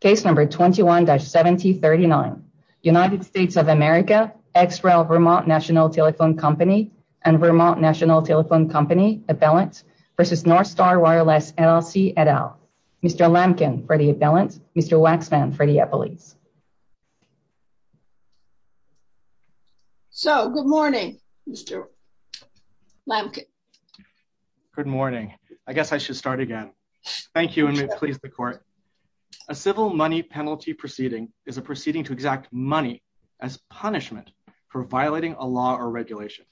Case number 21-7039. United States of America, ex rel. Vermont National Telephone Company and Vermont National Telephone Company, Abellant v. Northstar Wireless, LLC, et al. Mr. Lamkin for the Abellant, Mr. Waxman for the Eppley. So, good morning, Mr. Lamkin. Good morning. I guess I should start again. Thank you, and may it please the court. A civil money penalty proceeding is a proceeding to exact money as punishment for violating a law or regulation.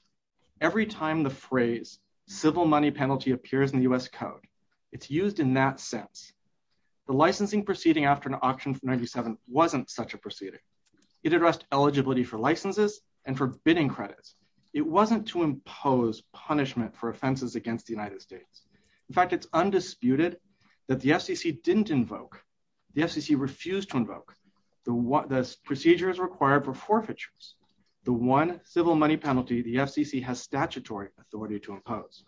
Every time the phrase civil money penalty appears in U.S. code, it's used in that sense. The licensing proceeding after an option 97 wasn't such a proceeding. It addressed eligibility for licenses and for bidding credits. It wasn't to impose punishment for offenses against the United States. In fact, it's undisputed that the FCC didn't invoke. The FCC refused to invoke. The procedure is required for forfeitures. The one civil money penalty the FCC has statutory authority to impose.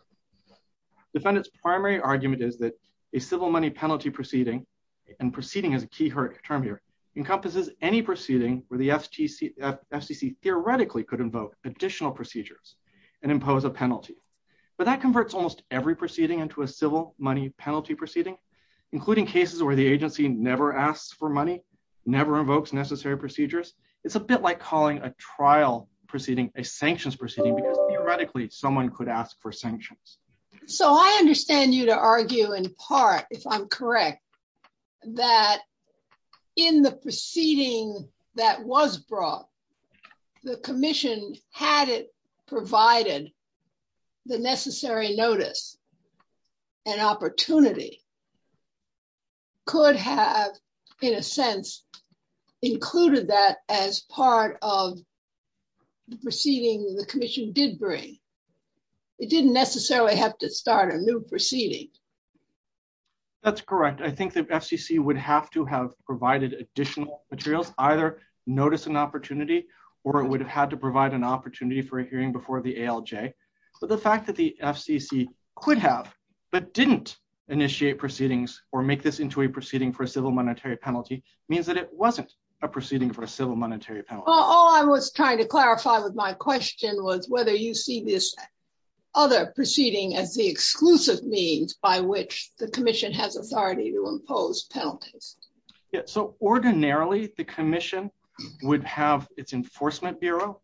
Defendant's primary argument is that a civil money penalty proceeding, and proceeding is a key term here, encompasses any proceeding where the FCC theoretically could invoke additional procedures and impose a penalty. But that converts almost every proceeding into a civil money penalty proceeding, including cases where the agency never asks for money, never invokes necessary procedures. It's a bit like calling a trial proceeding a sanctions proceeding because theoretically someone could ask for sanctions. So, I understand you to argue in part, if I'm correct, that in the proceeding that was brought, the commission, had it provided the necessary notice and opportunity, could have, in a sense, included that as part of the proceeding the commission did bring. It didn't necessarily have to start a new proceeding. That's correct. I think the FCC would have to have provided additional materials, either notice and opportunity, or it would have had to provide an opportunity for a hearing before the ALJ. But the fact that the FCC could have but didn't initiate proceedings or make this into a proceeding for a civil monetary penalty means that it wasn't a proceeding for a civil monetary penalty. All I was trying to clarify with my question was whether you see this other proceeding as the exclusive means by which the commission has authority to impose penalties. So, ordinarily, the commission would have its Enforcement Bureau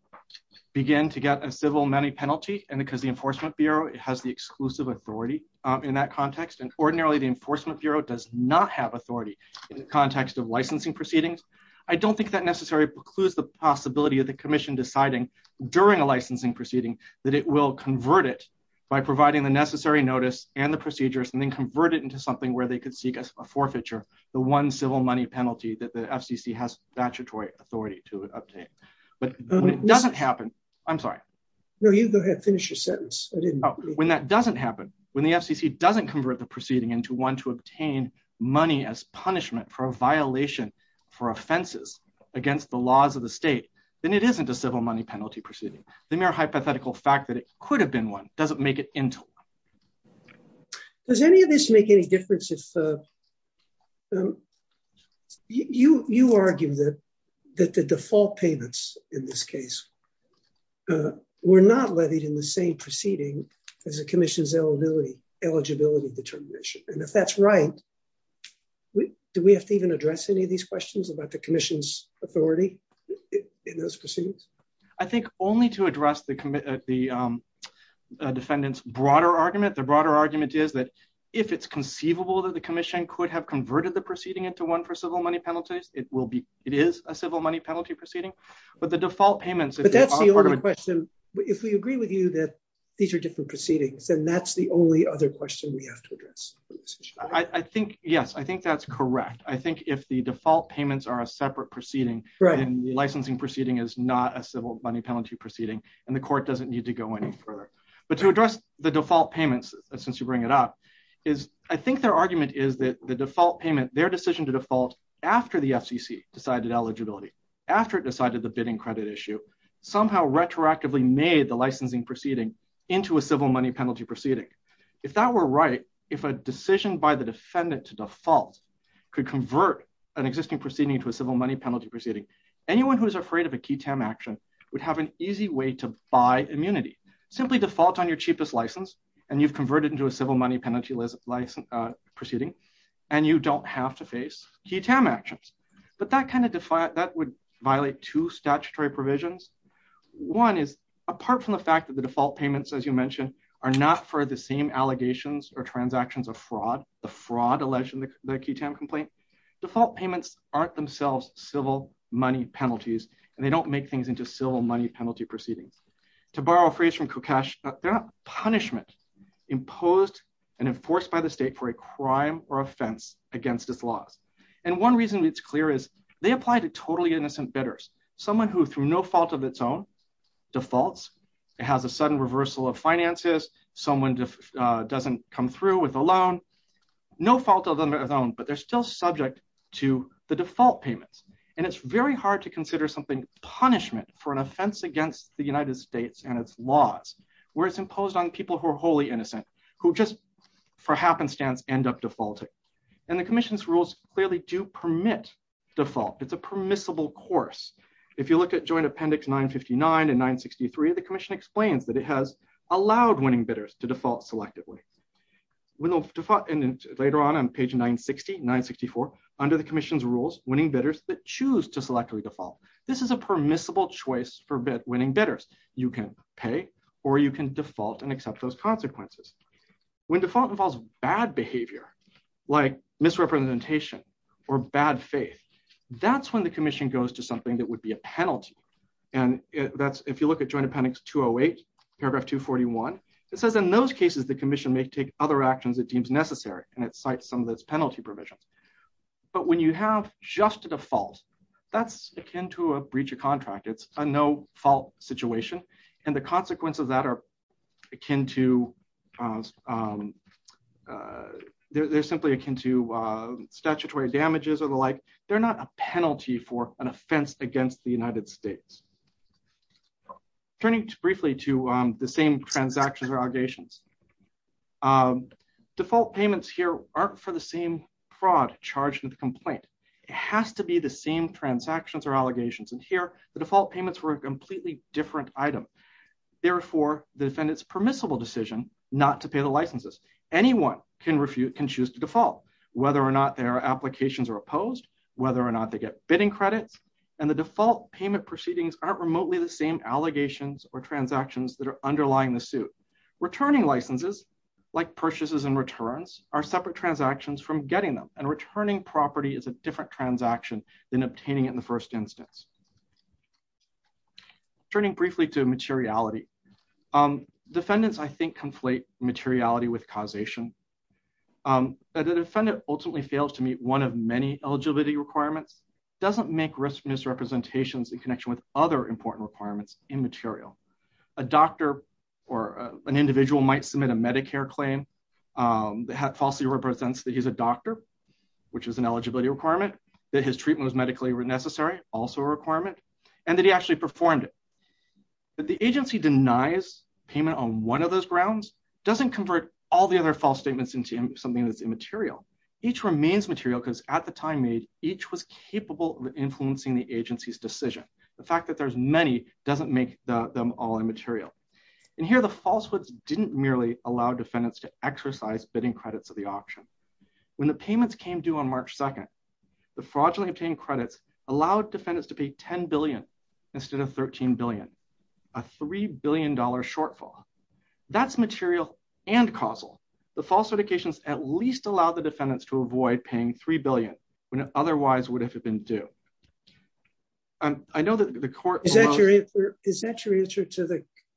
begin to get a civil money penalty, and because the Enforcement Bureau has the exclusive authority in that context, and ordinarily the Enforcement Bureau does not have authority in the context of licensing proceedings, I don't think that necessarily precludes the possibility of the commission deciding during a licensing proceeding that it will convert it by providing the necessary notice and the procedures and then convert it into something where they could seek a forfeiture, the one civil money penalty that the FCC has statutory authority to obtain. But when it doesn't happen, I'm sorry. No, you go ahead, finish your sentence. I didn't know. When that doesn't happen, when the FCC doesn't convert the proceeding into one to obtain money as punishment for a violation for offenses against the laws of the state, then it isn't a civil money penalty proceeding. The mere hypothetical fact that it could have been one doesn't make it internal. Does any of this make any difference if you argue that the default payments in this case were not levied in the same proceeding as the commission's eligibility determination, and if that's right, do we have to even address any of these questions about the commission's authority in those proceedings? I think only to address the defendant's broader argument. The broader argument is that if it's conceivable that the commission could have converted the proceeding into one for civil money penalties, it is a civil money penalty proceeding, but the default payments... But that's the only question. If we agree with you that these are different proceedings, then that's the only other question we have to address. I think, yes, I think that's correct. I think if the default payments are a separate proceeding, and the licensing proceeding is not a civil money penalty proceeding, and the court doesn't need to go any further. But to address the default payments, since you bring it up, is I think their argument is that the default payment, their decision to default after the FCC decided eligibility, after it decided the bidding credit issue, somehow retroactively made the licensing proceeding into a civil money penalty proceeding. If that were right, if a decision by the defendant to default could convert an existing proceeding to a civil money penalty proceeding, anyone who's afraid of a QI-TAM action would have an easy way to buy immunity. Simply default on your cheapest license, and you've converted into a civil money penalty proceeding, and you don't have to face QI-TAM actions. But that would violate two statutory provisions. One is, apart from the default payments, as you mentioned, are not for the same allegations or transactions of fraud, the fraud alleged in the QI-TAM complaint, default payments aren't themselves civil money penalties, and they don't make things into civil money penalty proceedings. To borrow a phrase from Kukash, they're a punishment imposed and enforced by the state for a crime or offense against this law. And one reason it's clear is they apply to totally innocent bidders, someone who through no fault of its own defaults, it has a sudden reversal of finances, someone just doesn't come through with a loan, no fault of their own, but they're still subject to the default payments. And it's very hard to consider something punishment for an offense against the United States and its laws, where it's imposed on people who are wholly innocent, who just for happenstance end up defaulting. And the commission's rules clearly do permit default. It's a permissible course. If you look at Joint Appendix 959 and 963, the commission explains that it has allowed winning bidders to default selectively. Later on on page 960, 964, under the commission's rules, winning bidders choose to selectively default. This is a permissible choice for winning bidders. You can pay or you can default and accept those consequences. When default involves bad behavior, like misrepresentation or bad faith, that's when the commission goes to something that would be a penalty. And if you look at Joint Appendix 208, paragraph 241, it says, in those cases, the commission may take other actions it deems necessary. And it cites some of those penalty provisions. But when you have just the default, that's akin to a breach of contract. It's a no fault situation. And the consequences of that are akin to, they're simply akin to statutory damages or the like. They're not a penalty for an offense against the United States. Turning briefly to the same transactions or allegations. Default payments here aren't for the same fraud charged with complaint. It has to be the same transactions or allegations. And here, the default payments were a completely different item. Therefore, the defendant's permissible decision not to pay the licenses. Anyone can refute, can choose to default, whether or not their applications are opposed, whether or not they get bidding credit. And the default payment proceedings aren't remotely the same allegations or transactions that are underlying the suit. Returning licenses, like purchases and returns, are separate transactions from getting them. And returning property is a different transaction than obtaining it in the first instance. Turning briefly to materiality. Defendants, I think, conflate materiality with causation. That a defendant ultimately fails to meet one of many eligibility requirements doesn't make riskiness representations in connection with other important requirements in material. A doctor or an individual might submit a Medicare claim that falsely represents that he's a doctor, which is an eligibility requirement, that his treatment was medically necessary, also a requirement, and that he actually performed it. That the agency denies payment on one of those grounds doesn't convert all the other false statements into something that's immaterial. Each remains material because at the time made, each was capable of influencing the agency's decision. The fact that there's many doesn't make them all immaterial. And here, the falsehoods didn't merely allow defendants to exercise bidding for the option. When the payments came due on March 2nd, the fraudulently obtained credits allowed defendants to pay $10 billion instead of $13 billion, a $3 billion shortfall. That's material and causal. The false indications at least allow the defendants to avoid paying $3 billion when it otherwise would have been due. I know that the court- Is that your answer to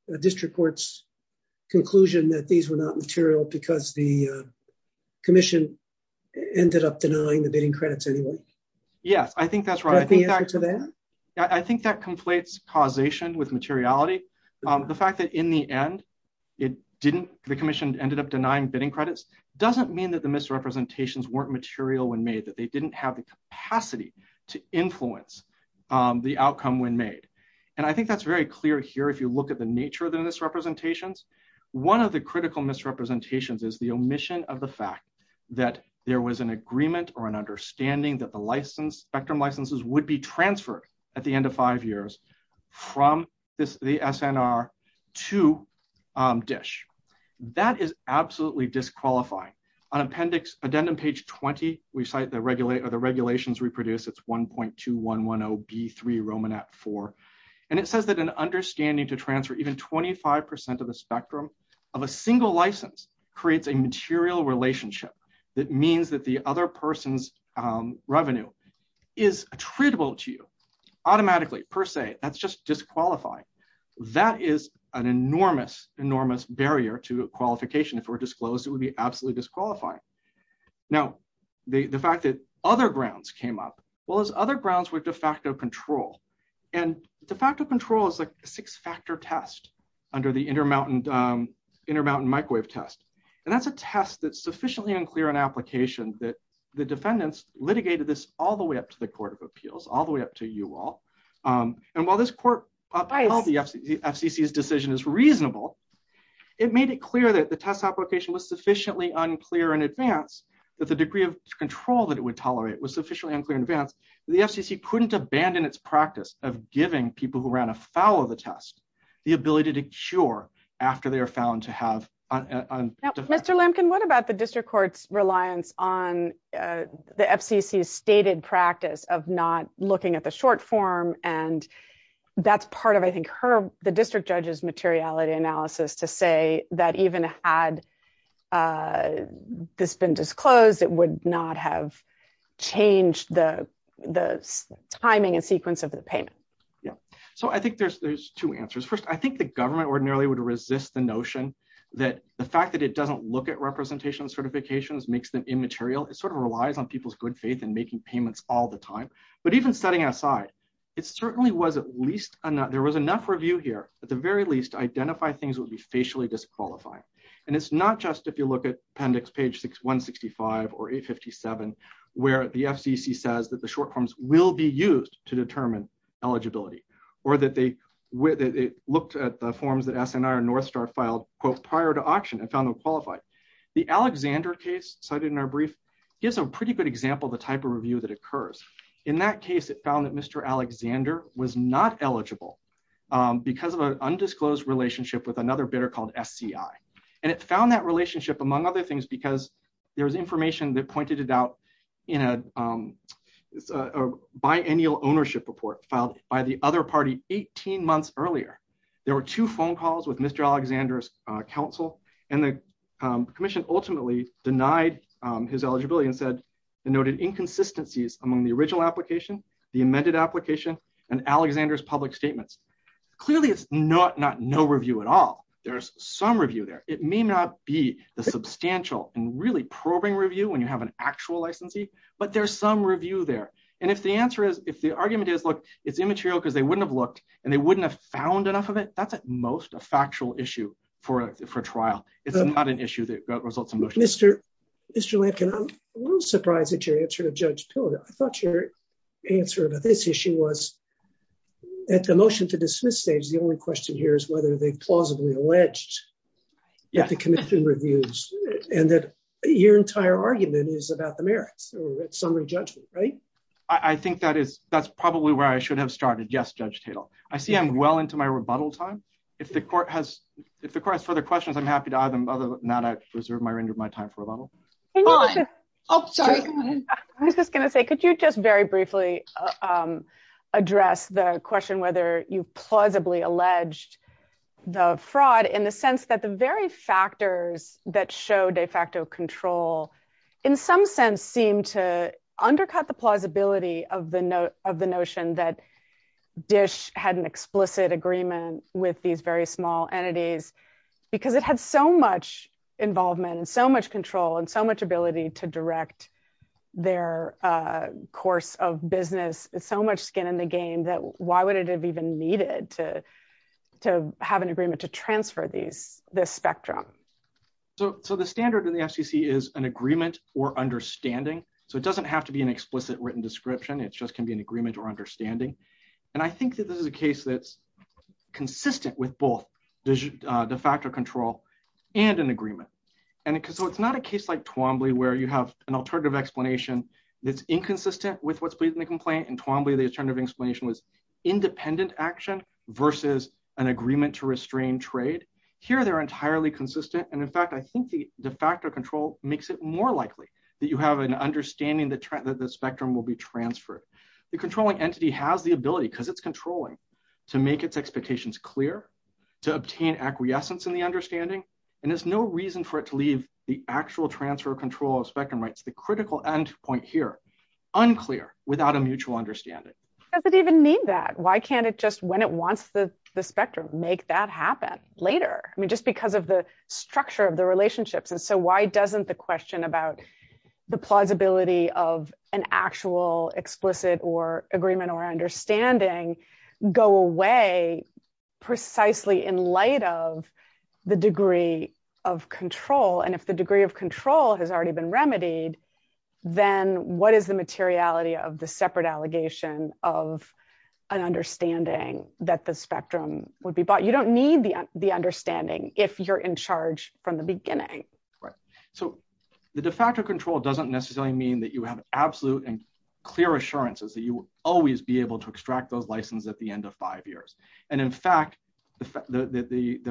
the district court's conclusion that these were not material because the commission ended up denying the bidding credits anyway? Yes, I think that's right. Is that the answer to that? I think that conflates causation with materiality. The fact that in the end, the commission ended up denying bidding credits doesn't mean that the misrepresentations weren't material when made, that they didn't have the capacity to influence the outcome when made. And I think that's very clear here if you look at the nature of the misrepresentations. One of the critical misrepresentations is the omission of the fact that there was an agreement or an understanding that the spectrum licenses would be transferred at the end of five years from the SNR to DISH. That is absolutely disqualifying. On appendix, addendum page 20, we cite the regulations we produced. It's 1.2110B3 Romanat 4. And it says that an understanding to of a single license creates a material relationship that means that the other person's revenue is attributable to you automatically, per se. That's just disqualifying. That is an enormous, enormous barrier to qualification. If it were disclosed, it would be absolutely disqualifying. Now, the fact that other grounds came up, well, those other grounds were de facto control. And de facto control is a six-factor test under the Intermountain Microwave Test. And that's a test that's sufficiently unclear in application that the defendants litigated this all the way up to the Court of Appeals, all the way up to you all. And while the FCC's decision is reasonable, it made it clear that the test application was sufficiently unclear in advance that the degree of control that it would tolerate was sufficiently unclear in advance that the FCC couldn't abandon its practice of giving people who ran afoul of the test the ability to cure after they are found to have... Now, Mr. Lemkin, what about the district court's reliance on the FCC's stated practice of not looking at the short form? And that's part of, I think, her, the district judge's materiality analysis to say that even had this been disclosed, it would not have changed the timing and sequence of the payment. Yeah, so I think there's two answers. First, I think the government ordinarily would resist the notion that the fact that it doesn't look at representation certifications makes them immaterial. It sort of relies on people's good faith and making payments all the time. But even setting aside, it certainly was at least, there was enough review here, at the very least, to identify things would be facially disqualified. And it's not just if you look at appendix page 165 or 857, where the FCC says that the short forms will be used to determine eligibility, or that they looked at the forms that SNR and Northstar filed, quote, prior to auction and found them qualified. The Alexander case cited in our brief gives a pretty good example of the type of review that occurs. In that case, it found that Mr. Alexander was not eligible because of an undisclosed relationship with another bidder called SCI. And it found that relationship, among other things, because there was information that pointed it out in a biennial ownership report filed by the other party 18 months earlier. There were two phone calls with Mr. Alexander's counsel, and the commission ultimately denied his eligibility and said, denoted inconsistencies among the original application, the amended application, and Alexander's public statements. Clearly, it's not no review at all. There's some review there. It may not be the substantial and really probing review when you have an actual licensee, but there's some review there. And if the answer is, if the argument is, look, it's immaterial because they wouldn't have looked and they wouldn't have found enough of it, that's at most a factual issue for a trial. It's not an issue that results in motion. Mr. Lincoln, I'm a little surprised at your answer to Judge Pilgrim. I thought your answer to this issue was at the motion to dismiss stage, the only question here is whether they plausibly alleged the commission reviews and that your entire argument is about the merits or summary judgment, right? I think that's probably where I should have started. Yes, Judge Tatel. I see I'm well into my rebuttal time. If the court has further questions, I'm happy to either or not reserve my time for rebuttal. I was just going to say, could you just briefly address the question whether you plausibly alleged the fraud in the sense that the very factors that show de facto control in some sense seem to undercut the plausibility of the notion that Dish had an explicit agreement with these very small entities because it had so much of business, so much skin in the game, that why would it have even needed to have an agreement to transfer this spectrum? So the standard in the FCC is an agreement or understanding. So it doesn't have to be an explicit written description. It just can be an agreement or understanding. And I think that this is a case that's consistent with both the factor control and an agreement. And so it's not a case like Twombly where you have an alternative explanation that's inconsistent with what's pleasing to complain. In Twombly, the alternative explanation was independent action versus an agreement to restrain trade. Here, they're entirely consistent. And in fact, I think the de facto control makes it more likely that you have an understanding that the spectrum will be transferred. The controlling entity has the ability, because it's controlling, to make its expectations clear, to obtain acquiescence in the understanding. And there's no reason for it to leave the actual transfer of control of spectrum rights, the critical end point here, unclear, without a mutual understanding. Does it even mean that? Why can't it just, when it wants the spectrum, make that happen later? I mean, just because of the structure of the relationships. And so why doesn't the question about the plausibility of an actual explicit agreement or understanding go away precisely in light of the degree of control? And if the degree of control has already been remedied, then what is the materiality of the separate allegation of an understanding that the spectrum would be bought? You don't need the understanding if you're in charge from the beginning. So the de facto control doesn't necessarily mean that you have absolute and clear assurances that you will always be able to extract those licenses at the end of five years. And in fact, the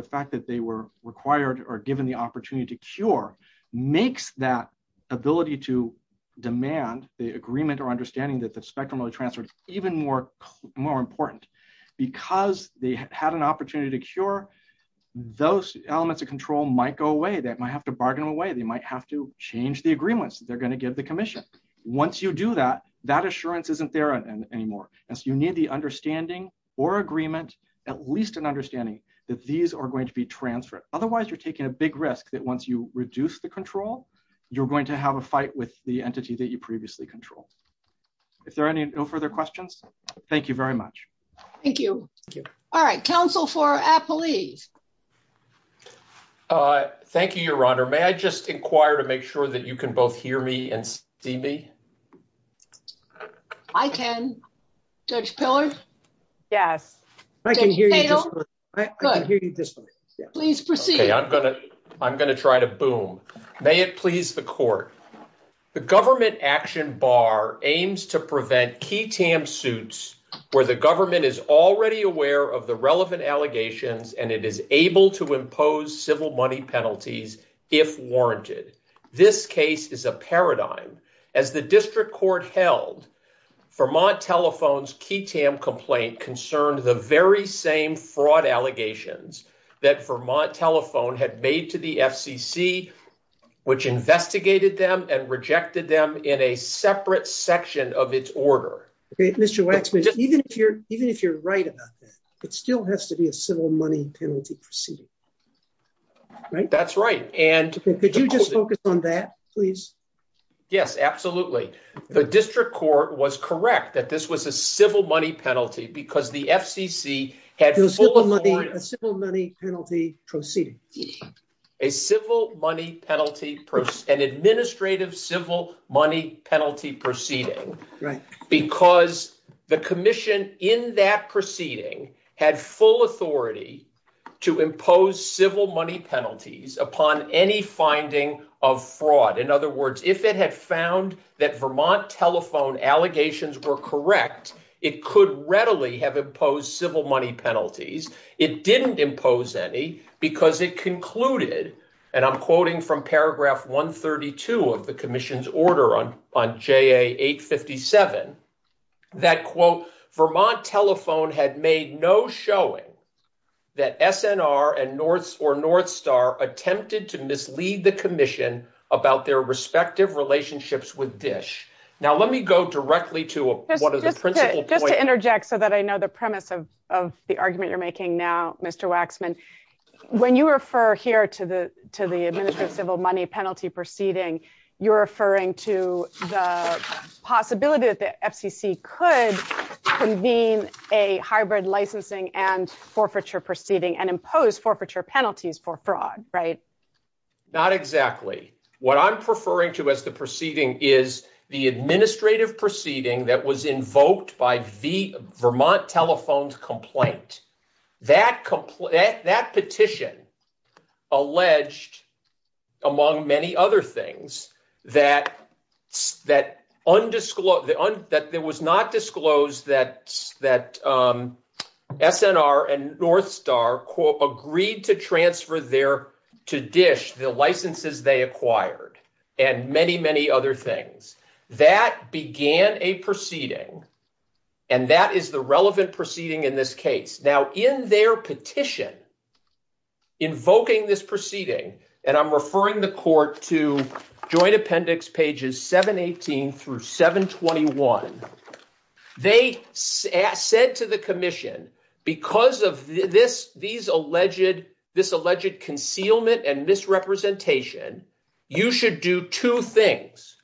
fact that they were required or given the opportunity to cure makes that ability to demand the agreement or understanding that the spectrum transfer is even more important. Because they had an opportunity to cure, those elements of control might go away. They might have to bargain away. They might have to change the agreements that they're going to give the commission. Once you do that, that assurance isn't there anymore. And so you need the understanding or agreement, at least an understanding, that these are going to be transferred. Otherwise, you're taking a big risk that once you reduce the control, you're going to have a fight with the entity that you previously controlled. If there are any no further questions, thank you very much. Thank you. Thank you. All right. Counsel for Appellee. Thank you, Your Honor. May I just inquire to make sure that you can both hear me and see me? I can. Judge Pillars? Yes. Judge Mayhill? I can hear you this way. Please proceed. I'm going to try to boom. May it please the court. The government action bar aims to prevent QI-TAM suits where the government is already aware of the relevant allegations and it is able to court held. Vermont Telephone's QI-TAM complaint concerned the very same fraud allegations that Vermont Telephone had made to the FCC, which investigated them and rejected them in a separate section of its order. Okay. Mr. Waxman, even if you're right about that, it still has to be a civil money penalty proceeding. Right? That's right. Could you just focus on that, please? Yes, absolutely. The district court was correct that this was a civil money penalty because the FCC had- A civil money penalty proceeding. A civil money penalty, an administrative civil money penalty proceeding because the commission in that proceeding had full authority to impose civil money penalties upon any finding of fraud. In other words, if it had found that Vermont Telephone allegations were correct, it could readily have imposed civil money penalties. It didn't impose any because it concluded, and I'm quoting from paragraph 132 of the commission's order on JA 857, that, quote, Vermont Telephone had made no showing that SNR or North Star attempted to mislead the commission about their respective relationships with DISH. Now, let me go directly to what is- Just to interject so that I know the premise of the argument you're making now, Mr. Waxman, when you refer here to the administrative civil money penalty proceeding, you're referring to the possibility that the FCC could convene a hybrid licensing and forfeiture proceeding and impose forfeiture penalties for fraud, right? Not exactly. What I'm referring to as the proceeding is the administrative proceeding that was invoked by the Vermont Telephone's complaint. That petition alleged, among many other things, that it was not disclosed that SNR and North Star, quote, agreed to transfer to DISH the licenses they acquired and many, many other things. That began a proceeding, and that is the relevant proceeding in this case. Now, in their petition invoking this proceeding, and I'm referring the court to joint appendix pages 718 through 721, they said to the commission, because of this alleged concealment and misrepresentation, you should do two things.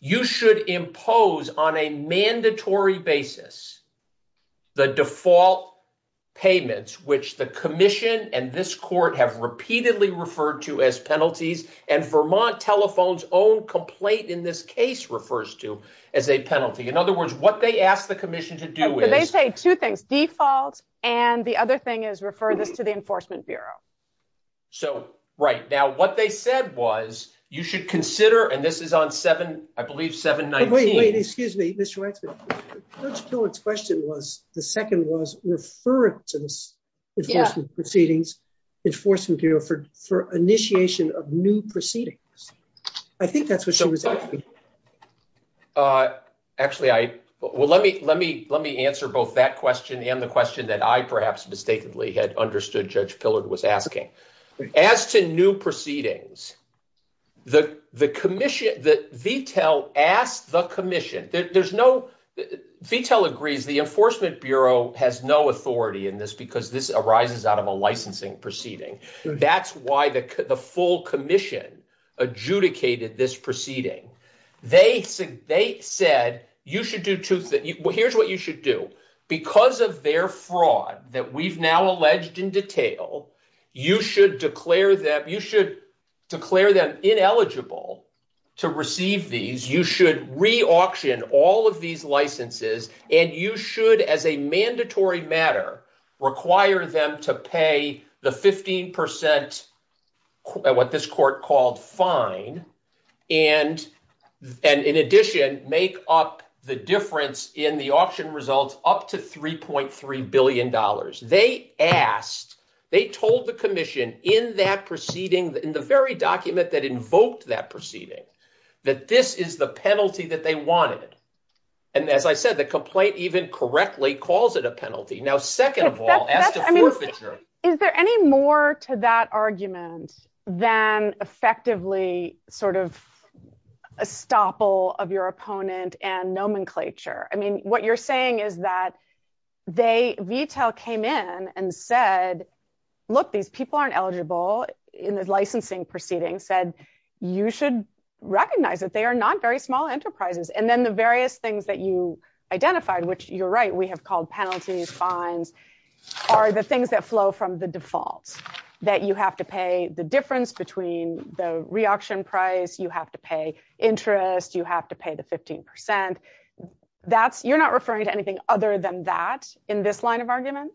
You should impose on a mandatory basis the default payments, which the commission and this court have repeatedly referred to as penalties, and Vermont Telephone's own complaint in this case refers to as a penalty. In other words, what they asked the commission to do is- They say two things, default and the other thing is refer this to the Enforcement Bureau. So, right. Now, what they said was, you should consider, and this is on 7, I believe, 719- Wait, wait, excuse me, Mr. Wexler. Judge Pillard's question was, the second was, refer it to the Enforcement Bureau for initiation of new proceedings. I think that's what she was asking. Actually, I, well, let me answer both that question and the question that I perhaps mistakenly had understood Judge Pillard was asking. As to new proceedings, the commission, the VTL asked the commission, there's no- VTL agrees the Enforcement Bureau has no authority in this because this arises out of a licensing proceeding. That's why the full commission adjudicated this proceeding. They said, you should do two things. Here's what you should do. Because of their fraud that we've now alleged in detail, you should declare them- You should declare them ineligible to receive these. You should re-auction all of these licenses, and you should, as a mandatory matter, require them to pay the 15 percent, what this court called fine, and in addition, make up the difference in the auction results up to $3.3 billion. They asked, they told the commission in that proceeding, in the very document that invoked that proceeding, that this is the penalty that they wanted. As I said, the complaint even correctly calls it a penalty. Now, second of all- Is there any more to that argument than effectively sort of a stopple of your opponent and nomenclature? I mean, what you're saying is that VTL came in and said, look, these people aren't eligible in the licensing proceeding, said you should recognize that they are not very small enterprises. Then the various things that you identified, which you're right, we have called penalties, fines, are the things that flow from the default, that you have to pay the difference between the re-auction price, you have to pay interest, you have to pay the 15 percent. You're not referring to anything other than that in this line of argument?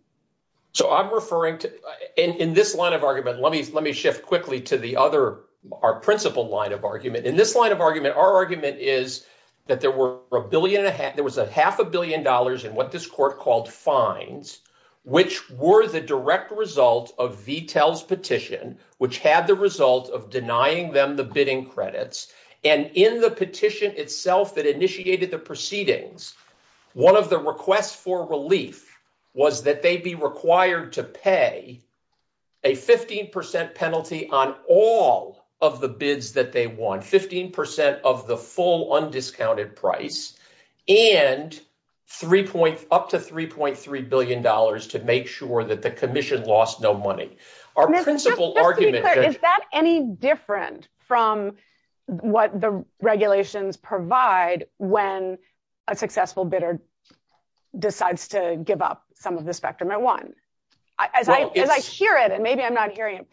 So, I'm referring to, in this line of argument, let me shift quickly to the other, our principal line of argument. In this line of argument, our argument is that there were a billion, there was a half a billion dollars in what this court called fines, which were the direct result of VTL's petition, which had the result of denying them the bidding credits. And in the petition itself that initiated the proceedings, one of the requests for relief was that they be required to pay a 15 percent penalty on all of the bids that they won, 15 percent of the full undiscounted price, and up to 3.3 billion dollars to make sure that the commission lost no money. Is that any different from what the regulations provide when a successful bidder decides to give up some of the spectrum they won? As I share it, and maybe I'm not hearing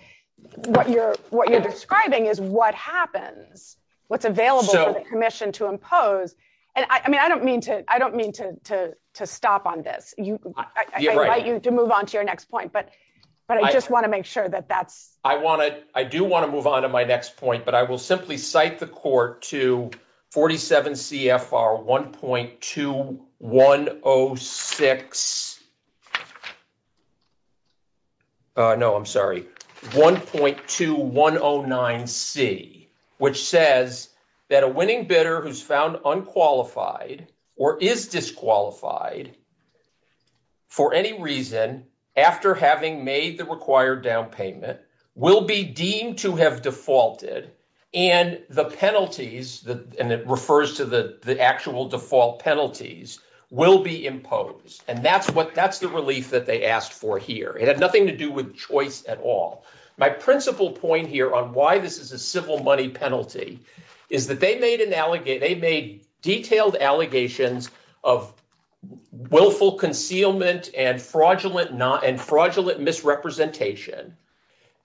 what you're, what you're describing is what happens, what's available for the commission to impose. And I mean, I don't mean to, I don't mean to stop on this. You're right. I think you can move on to your next point, but I just want to make sure that that's. I want to, I do want to move on to my next point, but I will simply cite the court to 47 CFR 1.2106. No, I'm sorry. 1.2109C, which says that a winning bidder who's found unqualified or is disqualified for any reason after having made the required down payment will be deemed to have defaulted, and the penalties, and it refers to the actual default penalties, will be imposed. And that's the relief that they asked for here. It had nothing to do with choice at all. My principal point here on why this is a civil money penalty is that they made an allegation, they made detailed allegations of willful concealment and fraudulent misrepresentation.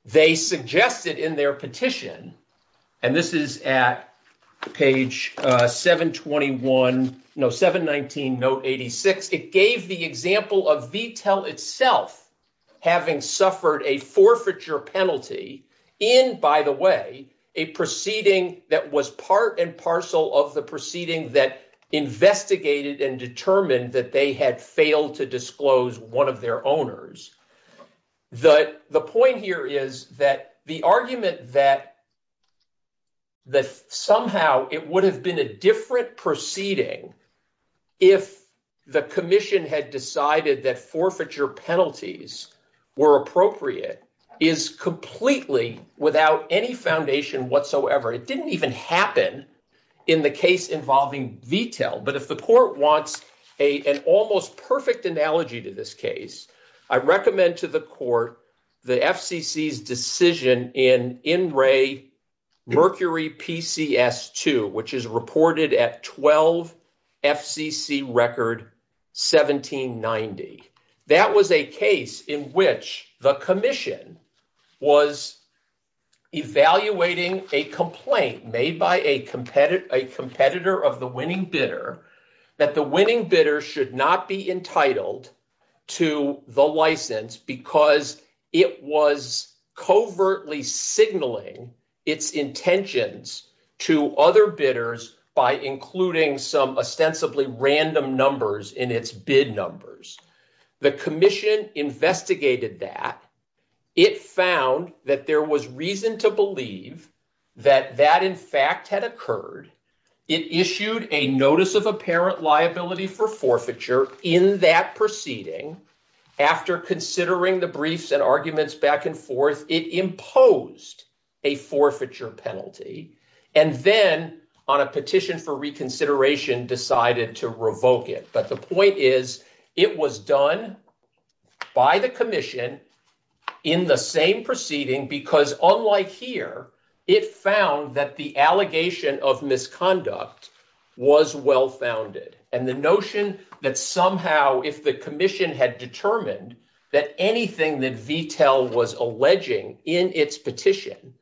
They suggested in their itself having suffered a forfeiture penalty in, by the way, a proceeding that was part and parcel of the proceeding that investigated and determined that they had failed to disclose one of their owners. The point here is that the argument that somehow it would have been a different proceeding if the commission had decided that forfeiture penalties were appropriate is completely without any foundation whatsoever. It didn't even happen in the case involving detail, but if the court wants an almost perfect analogy to this case, I recommend to the court the FCC's decision in NRA Mercury PCS2, which is reported at 12 FCC record 1790. That was a case in which the commission was evaluating a complaint made by a competitor of the winning bidder that the winning bidder should not be entitled to the license because it was covertly signaling its intentions to other bidders by including some ostensibly random numbers in its bid numbers. The commission investigated that. It found that there was reason to believe that that in fact had apparent liability for forfeiture in that proceeding. After considering the briefs and arguments back and forth, it imposed a forfeiture penalty and then on a petition for reconsideration decided to revoke it. But the point is it was done by the commission in the same proceeding because unlike here, it found that the allegation of misconduct was well-founded and the notion that somehow if the commission had determined that anything that VTEL was alleging in its petition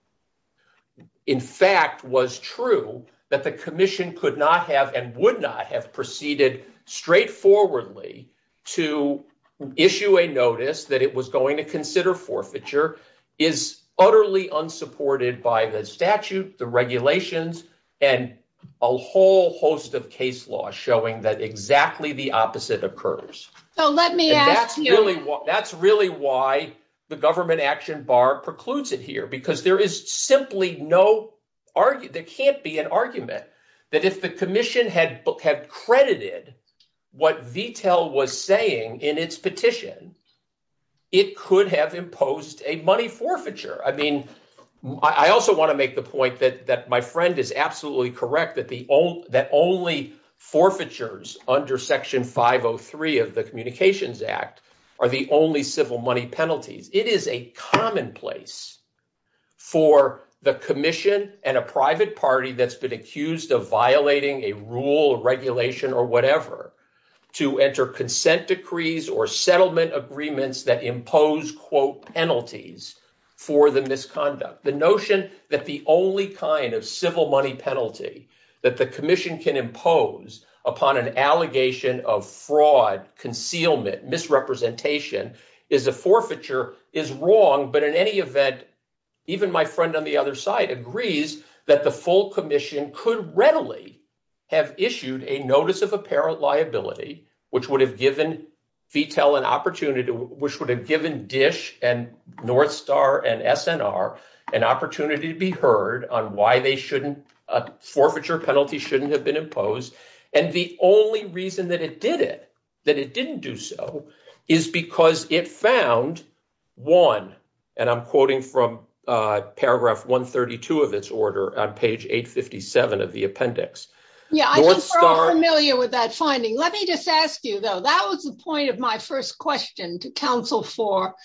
in fact was true, that the commission could not have and would not have proceeded straightforwardly to issue a notice that it was going to consider forfeiture is utterly unsupported by the statute, the regulations, and a whole host of case laws showing that exactly the opposite occurs. That's really why the government action bar precludes it here because simply there can't be an argument that if the commission had credited what VTEL was saying in its petition, it could have imposed a money forfeiture. I also want to make the point that my friend is absolutely correct that only forfeitures under Section 503 of the Communications Act are the only civil money penalties. It is a commonplace for the commission and a private party that's been accused of violating a rule or regulation or whatever to enter consent decrees or settlement agreements that impose quote penalties for the misconduct. The notion that the only kind of civil money penalty that the commission can impose upon an allegation of fraud, concealment, misrepresentation is a forfeiture is wrong, but in any event, even my friend on the other side agrees that the full commission could readily have issued a notice of apparent liability which would have given VTEL an opportunity, which would have given DISH and North Star and SNR an opportunity to be heard on why they shouldn't, a forfeiture penalty shouldn't have been imposed, and the only reason that it did it, that it didn't do so, is because it found one, and I'm quoting from paragraph 132 of its order on page 857 of the appendix. Yeah, I think we're all familiar with that finding. Let me just ask you, though, that was the point of my first question to counsel for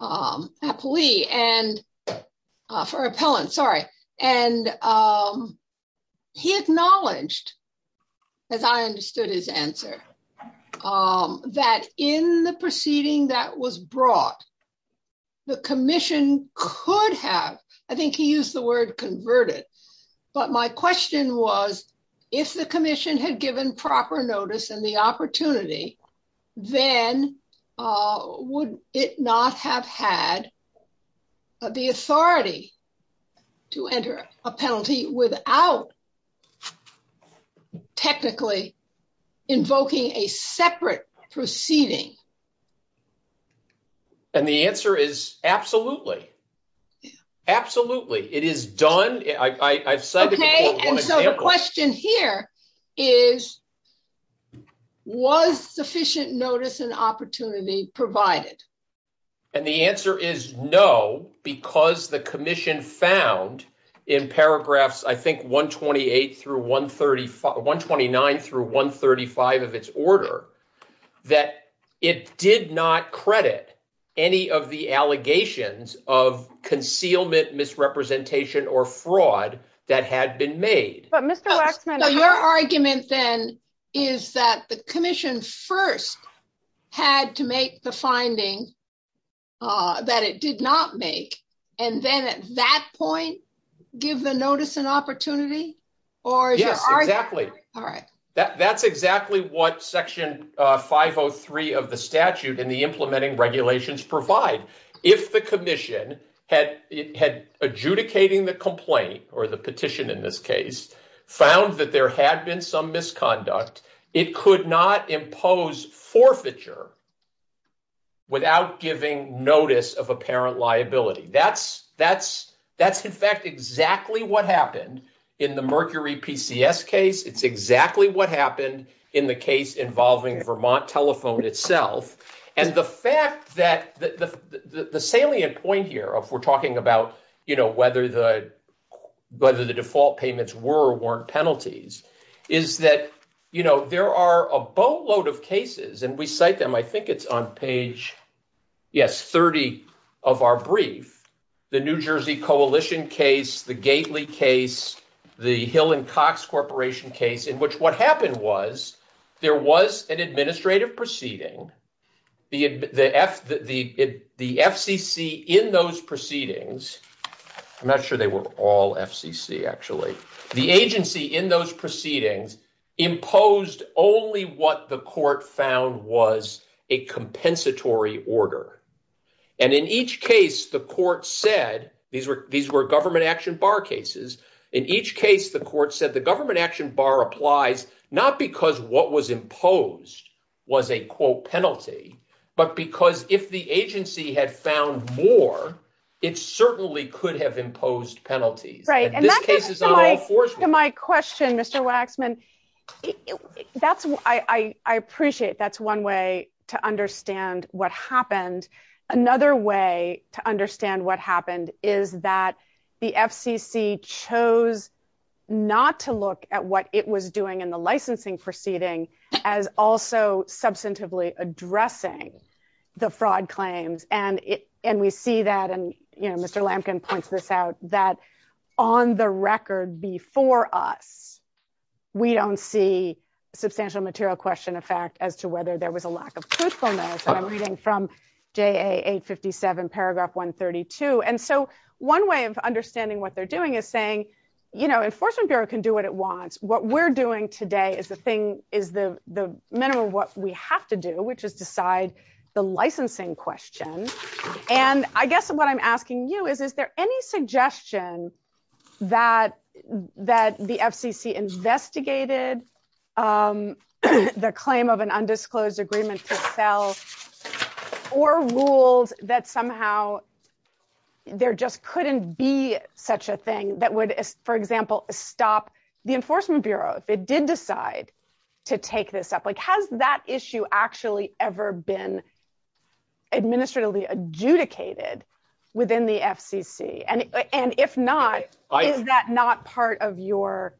Applee and for Appellant, sorry, and he acknowledged, as I understood his answer, that in the proceeding that was brought, the commission could have, I think he used the word converted, but my question was if the commission had given proper notice and the opportunity, then would it not have had the authority to enter a penalty without technically invoking a separate proceeding? And the answer is absolutely. Absolutely. It is done. Okay, and so the question here is was sufficient notice and opportunity provided? And the answer is no, because the commission found in paragraphs, I think 128 through 135, 129 through 135 of its order, that it did not credit any of the allegations of concealment, misrepresentation, or fraud that had been made. So your argument, then, is that the commission first had to make the finding that it did not make, and then at that point give the notice and opportunity? Yes, exactly. That's exactly what section 503 of the statute in the implementing regulations provide. If the commission had adjudicating the complaint, or the petition in this case, found that there had been some misconduct, it could not impose forfeiture without giving notice of apparent liability. That's, in fact, exactly what happened in the Mercury PCS case. It's exactly what happened in the case involving Vermont Telephone itself. And the fact that the salient point here, if we're talking about whether the default payments were or weren't penalties, is that there are a boatload of cases, and we cite them, I think it's on page, yes, 30 of our brief, the New Jersey Coalition case, the Gately case, the Hill and Cox Corporation case, in which what happened was there was an administrative proceeding, the FCC in those proceedings, I'm not sure they were all FCC, actually, the agency in those proceedings imposed only what the court found was a compensatory order. And in each case, the court said, these were government action bar cases, in each case, the court said the government action bar applies, not because what was imposed was a, quote, penalty, but because if the agency had found more, it certainly could have imposed penalties. Right. And that's my question, Mr. Waxman. I appreciate that's one way to understand what not to look at what it was doing in the licensing proceeding as also substantively addressing the fraud claims. And we see that, and, you know, Mr. Lampkin points this out, that on the record before us, we don't see substantial material question of fact as to whether there was a lack of truthfulness, and I'm reading from GAA 857 paragraph 132. And so one way of understanding what they're doing is saying, you know, enforcement bureau can do what it wants, what we're doing today is the thing, is the minimum of what we have to do, which is decide the licensing question. And I guess what I'm asking you is, is there any suggestion that the FCC investigated the claim of an undisclosed agreement itself, or rules that somehow there just couldn't be such a thing that would, for example, stop the enforcement bureaus? They did decide to take this up. Like, has that issue actually ever been administratively adjudicated within the FCC? And if not, is that not part of your,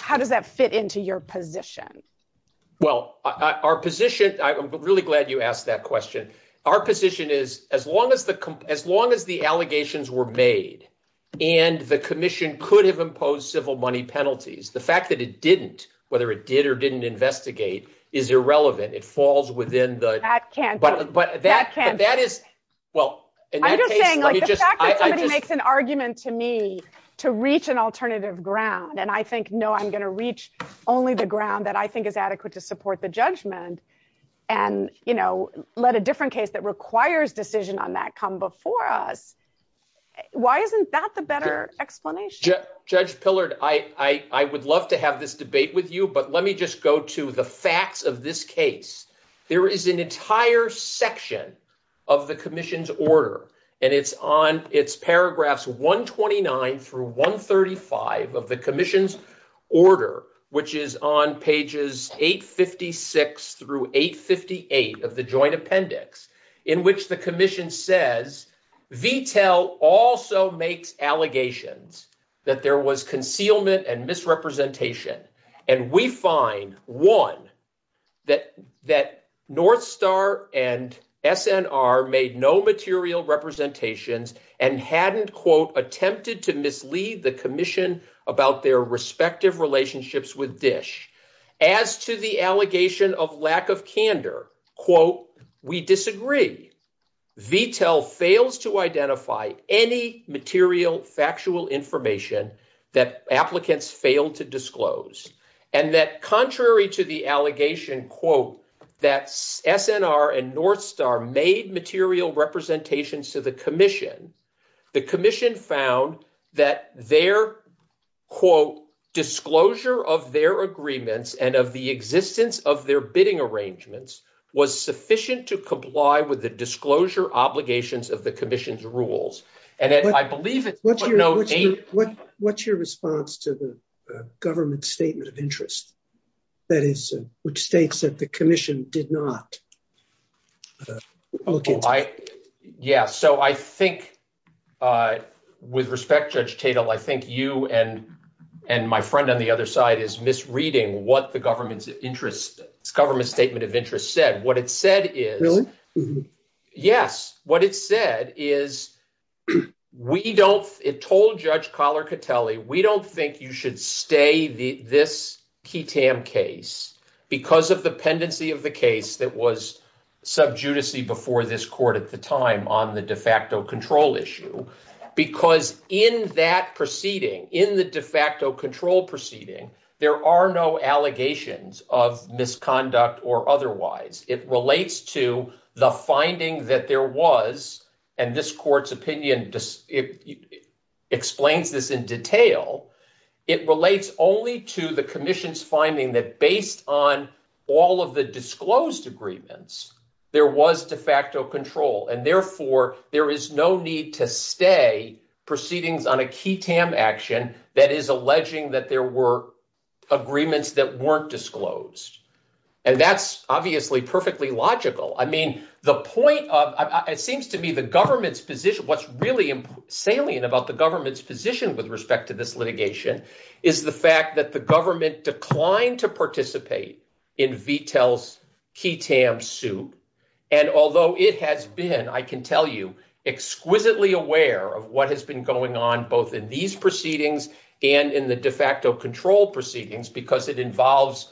how does that fit into your position? Well, our position, I'm really glad you asked that question. Our position is, as long as the, as long as the allegations were made, and the commission could have imposed civil money penalties, the fact that it didn't, whether it did or didn't investigate, is irrelevant. It falls within the, but that is, well. I'm just saying, makes an argument to me to reach an alternative ground. And I think, no, I'm going to reach only the ground that I think is adequate to support the judgment and, you know, let a different case that requires decision on that come before us. Why isn't that the better explanation? Judge Pillard, I would love to have this debate with you, but let me just go to the facts of this case. There is an entire section of the commission's on its paragraphs 129 through 135 of the commission's order, which is on pages 856 through 858 of the joint appendix, in which the commission says, VTEL also makes allegations that there was concealment and misrepresentation. And we find, one, that North Star and SNR made no material representations and hadn't, quote, attempted to mislead the commission about their respective relationships with DISH. As to the allegation of lack of candor, quote, we disagree. VTEL fails to identify any material factual information that applicants failed to to the commission. The commission found that their, quote, disclosure of their agreements and of the existence of their bidding arrangements was sufficient to comply with the disclosure obligations of the commission's rules. And I believe... What's your response to the government's statement of interest? That is, which states that the commission did not... Yeah, so I think, with respect, Judge Cato, I think you and my friend on the other side is misreading what the government's interest, government's statement of interest said. What it said is... Really? Yes. What it said is, we don't, it told Judge Collar-Catelli, we don't think you should stay this KTAM case because of the pendency of the case that was sub judice before this court at the time on the de facto control issue. Because in that proceeding, in the de facto control proceeding, there are no allegations of misconduct or otherwise. It relates to the finding that there was, and this court's opinion explains this in detail, it relates only to the commission's finding that based on all of the disclosed agreements, there was de facto control. And therefore, there is no need to stay proceedings on a KTAM action that is alleging that there were agreements that weren't disclosed. And that's obviously perfectly logical. I mean, the point of, it seems to me the government's position, what's really salient about the government's position with respect to this litigation is the fact that the government declined to participate in VTEL's KTAM suit. And although it has been, I can tell you, exquisitely aware of what has been going on both in these proceedings and in the de facto control proceedings, because it involves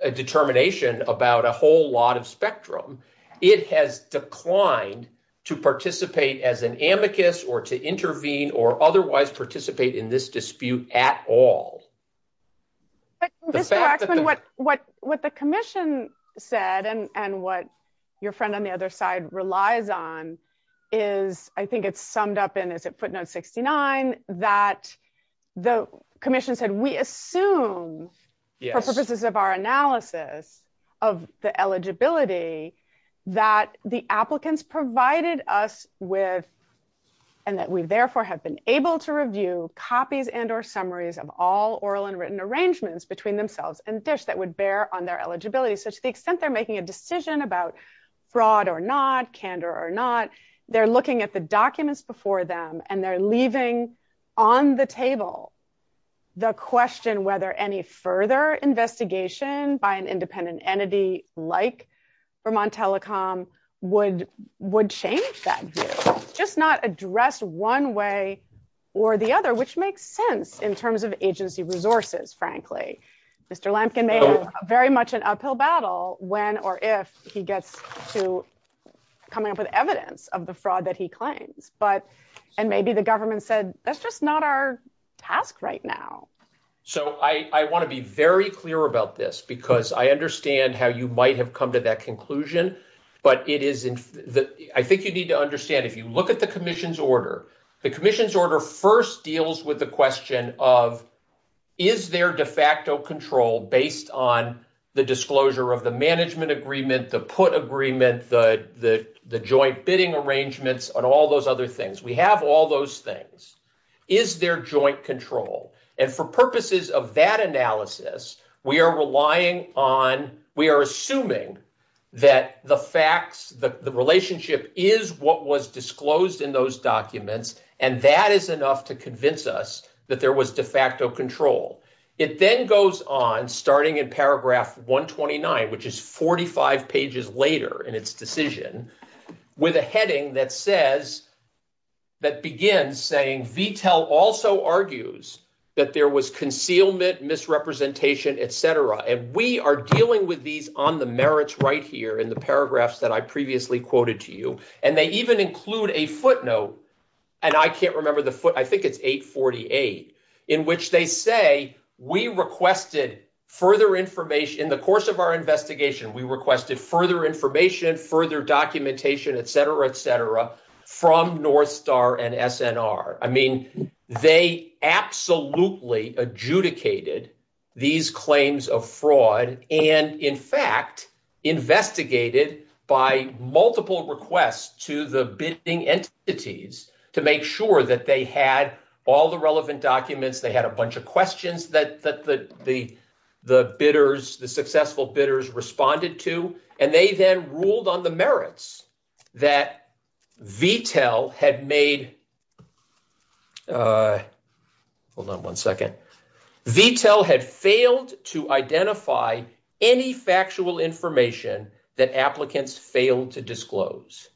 a determination about a whole lot of spectrum. It has declined to participate as an amicus or to intervene or otherwise participate in this dispute at all. But Mr. Axelrod, what the commission said and what your friend on the other side relies on is, I think it's summed up in, as it put note 69, that the commission said, we assume purposes of our analysis of the eligibility that the applicants provided us with, and that we therefore have been able to review copies and or summaries of all oral and written arrangements between themselves and DISH that would bear on their eligibility. So to the extent they're making a decision about fraud or not, candor or not, they're looking at the documents before them and they're leaving on the table the question whether any further investigation by an independent entity like Vermont Telecom would change that view, just not address one way or the other, which makes sense in terms of agency resources, frankly. Mr. Lampkin made very much an uphill battle when or if he gets to coming up with evidence of the fraud that he claims, but and maybe the government said that's just not our task right now. So I want to be very clear about this because I understand how you might have come to that conclusion, but it is, I think you need to understand if you look at the commission's order, the commission's order first deals with the question of is there de facto control based on the disclosure of the management agreement, the put agreement, the joint bidding arrangements, and all those other things. We have all those things. Is there joint control? And for purposes of that analysis, we are relying on, we are assuming that the facts, that the relationship is what was disclosed in those documents to convince us that there was de facto control. It then goes on starting in paragraph 129, which is 45 pages later in its decision, with a heading that says, that begins saying, VTEL also argues that there was concealment, misrepresentation, etc. And we are dealing with these on the merits right here in the paragraphs that I previously quoted to you. And they even include a footnote, and I can't remember the foot, I think it's 848, in which they say, we requested further information, in the course of our investigation, we requested further information, further documentation, etc., etc. from North Star and SNR. I mean, they absolutely adjudicated these claims of fraud, and in fact, investigated by multiple requests to the bidding entities to make sure that they had all the relevant documents, they had a bunch of questions that the bidders, the successful bidders responded to, and they then ruled on the merits that VTEL had made, hold on one second, VTEL had failed to identify any factual information that applicants failed to disclose.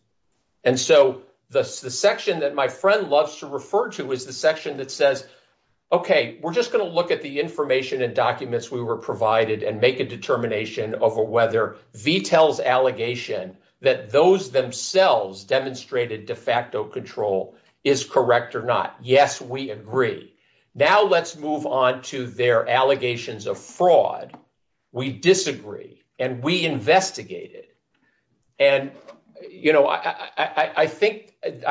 And so, the section that my friend loves to refer to is the section that says, okay, we're just going to look at the information and documents we were provided and make a decision on whether or not the fact of control is correct or not. Yes, we agree. Now, let's move on to their allegations of fraud. We disagree, and we investigate it. And, you know, I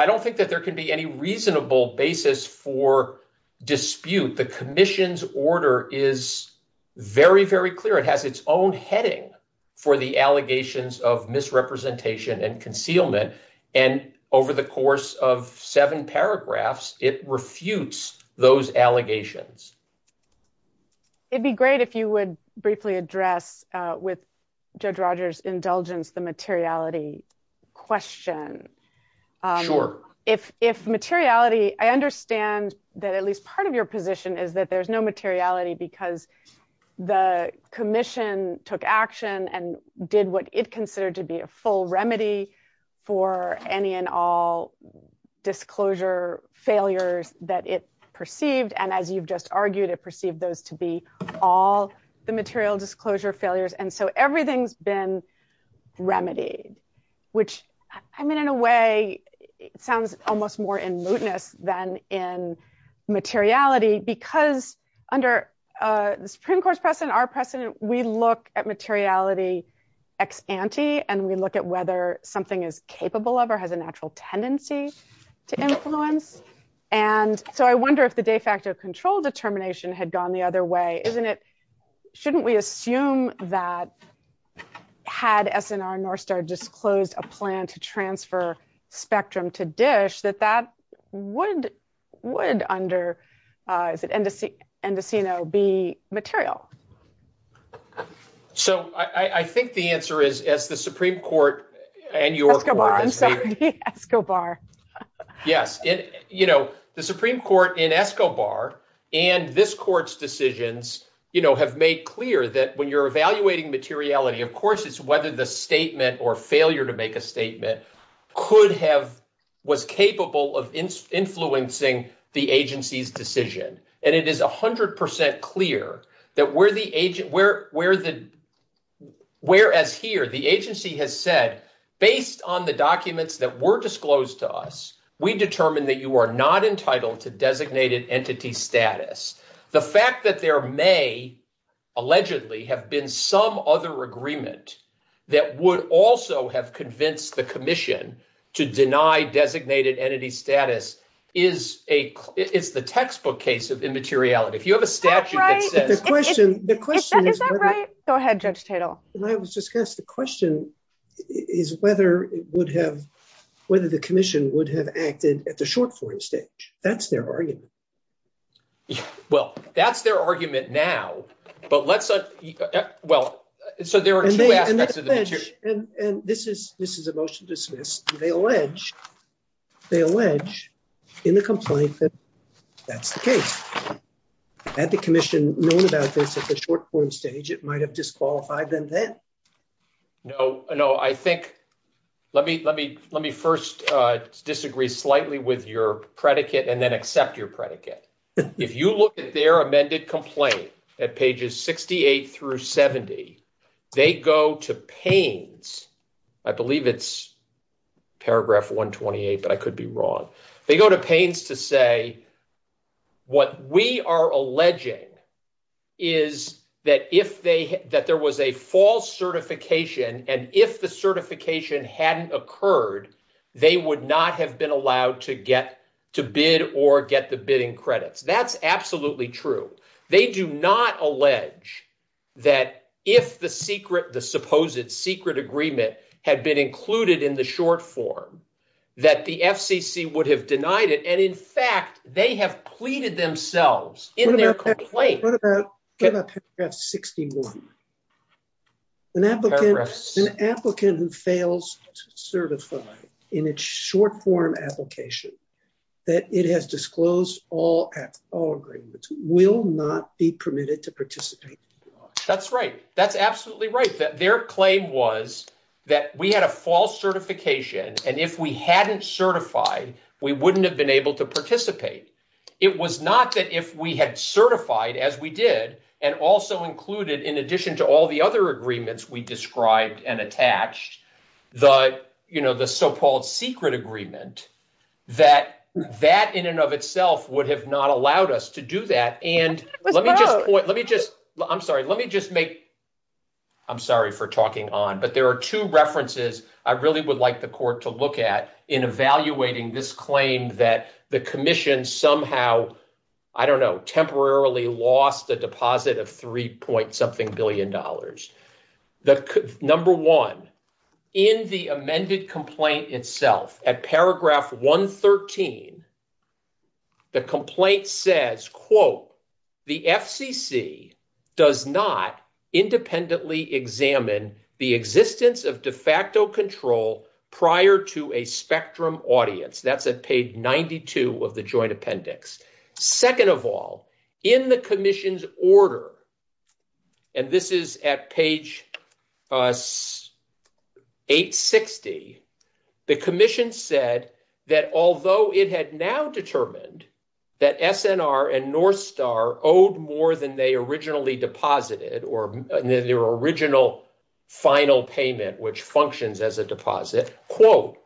don't think that there could be any reasonable basis for dispute. The commission's order is very, very clear. It has its own heading for the allegations of misrepresentation and concealment. And over the course of seven paragraphs, it refutes those allegations. It'd be great if you would briefly address with Judge Rogers' indulgence the materiality question. Sure. If materiality, I understand that at least part of your position is that there's no materiality because the commission took action and did what it considered to be a full remedy for any and all disclosure failures that it perceived. And as you've just argued, it perceived those to be all the material disclosure failures. And so, everything's been remedied, which, I mean, in a way, sounds almost more in mootness than in materiality because under the Supreme Court's precedent, our precedent, we look at materiality ex ante, and we look at whether something is capable of or has a natural tendency to influence. And so, I wonder if the de facto control determination had gone the other way. Isn't it, shouldn't we assume that had SNR-NORSTAR just closed a plan to transfer spectrum to DISH, that that would under, is it, Endocino be material? So, I think the answer is, as the Supreme Court and your- Escobar. Sorry, Escobar. Yes. The Supreme Court in Escobar and this Court's decisions have made clear that when you're failure to make a statement could have, was capable of influencing the agency's decision. And it is 100% clear that where the agent, where the, whereas here the agency has said, based on the documents that were disclosed to us, we determined that you are not entitled to designated entity status. The fact that there may, allegedly, have been some other agreement that would also have convinced the commission to deny designated entity status is a, it's the textbook case of immateriality. If you have a statute that says- That's right. Is that right? Go ahead, Judge Teitel. When I was discussed, the question is whether it would have, whether the commission would have acted at the short-form stage. That's their argument. Well, that's their argument now, but let's, well, so there are two aspects of the- And this is, this is a motion to dismiss. They allege, they allege in the complaint that that's the case. Had the commission known about this at the short-form stage, it might have disqualified them then. No, no, I think, let me, let me, let me first disagree slightly with your predicate. If you look at their amended complaint at pages 68 through 70, they go to Payne's, I believe it's paragraph 128, but I could be wrong. They go to Payne's to say, what we are alleging is that if they, that there was a false certification and if the certification hadn't occurred, they would not have been allowed to get to bid or get the bidding credits. That's absolutely true. They do not allege that if the secret, the supposed secret agreement had been included in the short-form, that the FCC would have denied it. And in fact, they have pleaded themselves in their complaint. What about paragraph 61? An applicant, an applicant who fails to certify in its short-form application that it has disclosed all, all agreements will not be permitted to participate. That's right. That's absolutely right. That their claim was that we had a false certification and if we hadn't certified, we wouldn't have been able to participate. It was not that if we had certified as we did, and also included in addition to all the other agreements we described and attached, the, you know, the so-called secret agreement, that that in and of itself would have not allowed us to do that. And let me just, let me just, I'm sorry, let me just make, I'm sorry for talking on, but there are two references I really would like the court to look at. First of all, in the amended complaint itself, at paragraph 113, the complaint says, quote, the FCC does not independently examine the existence of de facto control prior to a spectrum audience. That's at page 92 of the joint appendix. Second of all, in the commission's order, and this is at page 860, the commission said that although it had now determined that SNR and North Star owed more than they originally deposited, or their original final payment, which functions as a deposit, quote,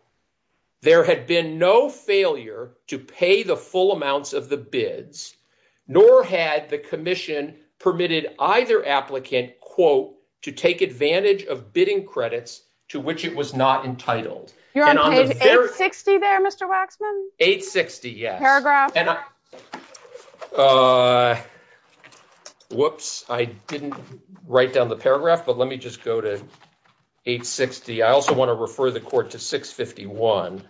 there had been no failure to pay the full amounts of the bids, nor had the commission permitted either applicant, quote, to take advantage of bidding credits to which it was not entitled. You're on page 860 there, Mr. Waxman? 860, yes. Paragraph? Whoops, I didn't write down the paragraph, but let me just go to 860. I also want to refer the court to 651.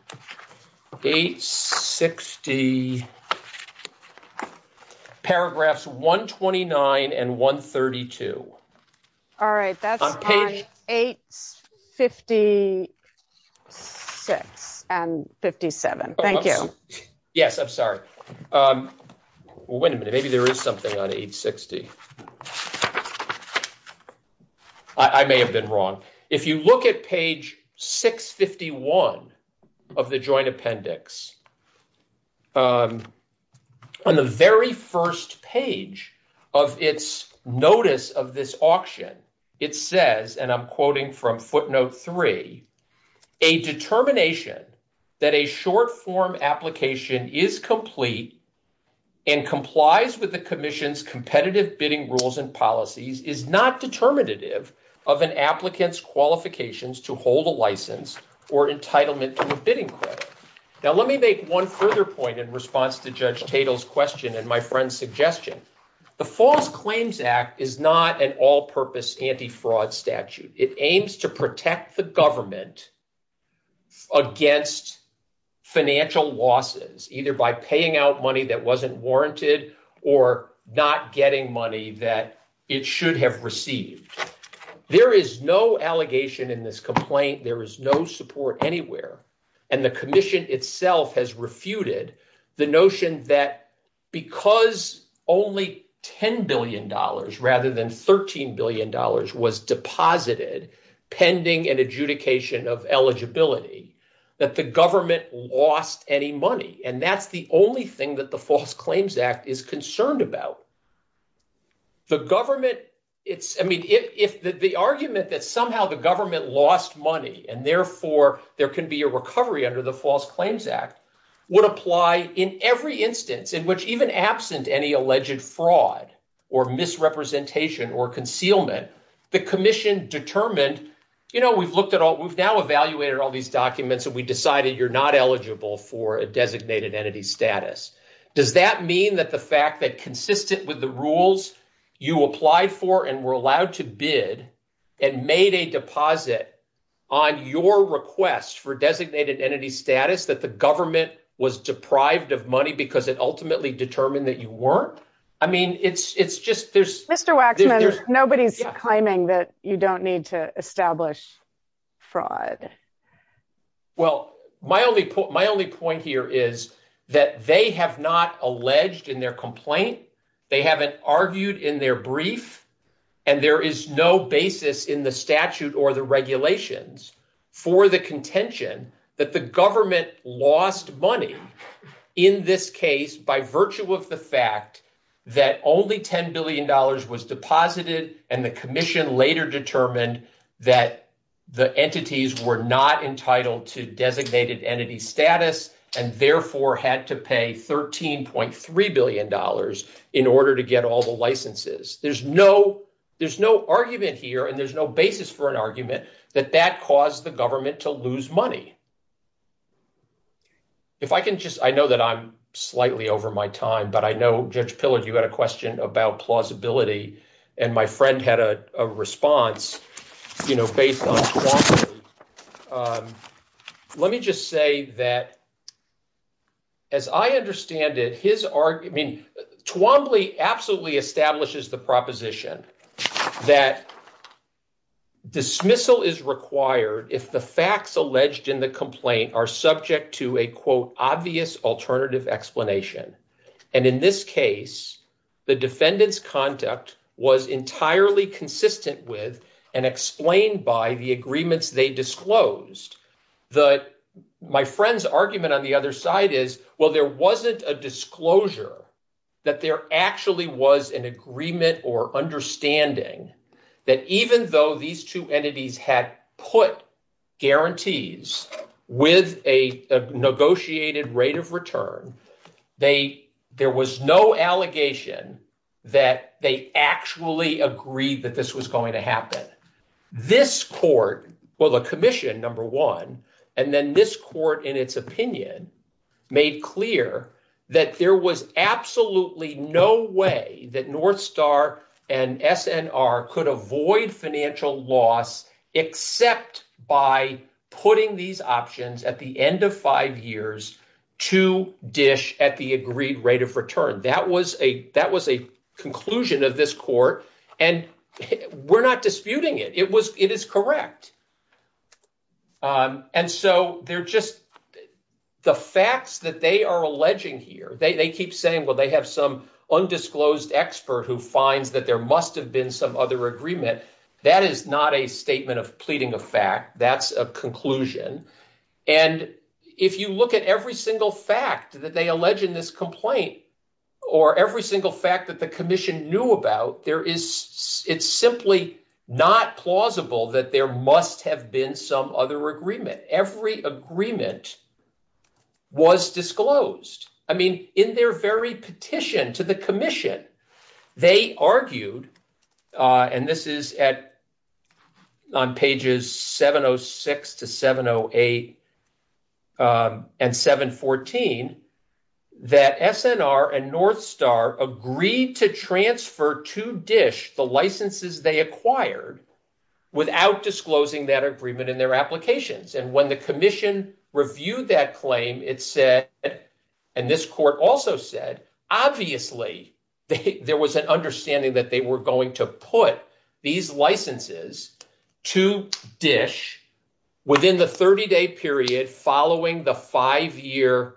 860, paragraphs 129 and 132. All right, that's on 856 and 57. Thank you. Yes, I'm sorry. Well, wait a minute. Maybe there is something on 860. I may have been wrong. If you look at page 651 of the joint appendix, on the very first page of its notice of this auction, it says, and I'm quoting from footnote 3, a determination that a short form application is complete and complies with the commission's competitive bidding rules and policies is not determinative of an applicant's qualifications to hold a license or entitlement to a bidding credit. Now, let me make one further point in response to Judge Tatel's question and my friend's suggestion. The False Claims Act is not an all-purpose anti-fraud statute. It aims to protect the government against financial losses, either by paying out money that wasn't warranted or not getting money that it should have received. There is no allegation in this complaint. There is no support anywhere. And the commission itself has refuted the notion that because only $10 billion rather than $13 billion was deposited pending an adjudication of eligibility, that the government lost any money. And that's the only thing that the False Claims Act is concerned about. The government, I mean, if the argument that somehow the government lost money and therefore there can be a recovery under the would apply in every instance in which even absent any alleged fraud or misrepresentation or concealment, the commission determined, you know, we've looked at all, we've now evaluated all these documents and we decided you're not eligible for a designated entity status. Does that mean that the fact that consistent with the rules you applied for and were allowed to bid and made a deposit on your request for designated entity status, that the government was deprived of money because it ultimately determined that you weren't? I mean, it's just there's... Mr. Waxman, nobody's claiming that you don't need to establish fraud. Well, my only point here is that they have not alleged in their complaint. They haven't argued in their brief and there is no basis in the statute or the regulations for the contention that the government lost money in this case by virtue of the fact that only $10 billion was deposited and the commission later determined that the entities were not entitled to designated entity status and therefore had to pay $13.3 billion in order to get all the licenses. There's no argument here and there's no basis for an argument that that caused the government to lose money. If I can just, I know that I'm slightly over my time, but I know Judge Pillard, you got a question about plausibility and my friend had a response, you know, based on plausibility. Let me just say that as I understand it, his argument, I mean, Twombly absolutely establishes the proposition that dismissal is required if the facts alleged in the complaint are subject to a quote, obvious alternative explanation. And in this case, the defendant's conduct was entirely consistent with and explained by the agreements they disclosed. My friend's argument on the other side is, well, there wasn't a disclosure that there actually was an agreement or understanding that even though these two entities had put guarantees with a negotiated rate of return, they, there was no allegation that they actually agreed that this was going to happen. This court, well, the commission, number one, and then this court in its opinion made clear that there was absolutely no way that Northstar and SNR could avoid financial loss except by putting these options at the end of five years to dish at the agreed rate of return. That was a, that was a conclusion of this court and we're not disputing it. It was, it is correct. And so they're just, the facts that they are alleging here, they keep saying, well, they have some undisclosed expert who finds that there must have been some other agreement. That is not a conclusion. And if you look at every single fact that they allege in this complaint or every single fact that the commission knew about, there is, it's simply not plausible that there must have been some other agreement. Every agreement was disclosed. I mean, in their very petition to the 708 and 714, that SNR and Northstar agreed to transfer to DISH the licenses they acquired without disclosing that agreement in their applications. And when the commission reviewed that claim, it said, and this court also said, obviously there was an understanding that they were going to put these licenses to DISH within the 30-day period following the five-year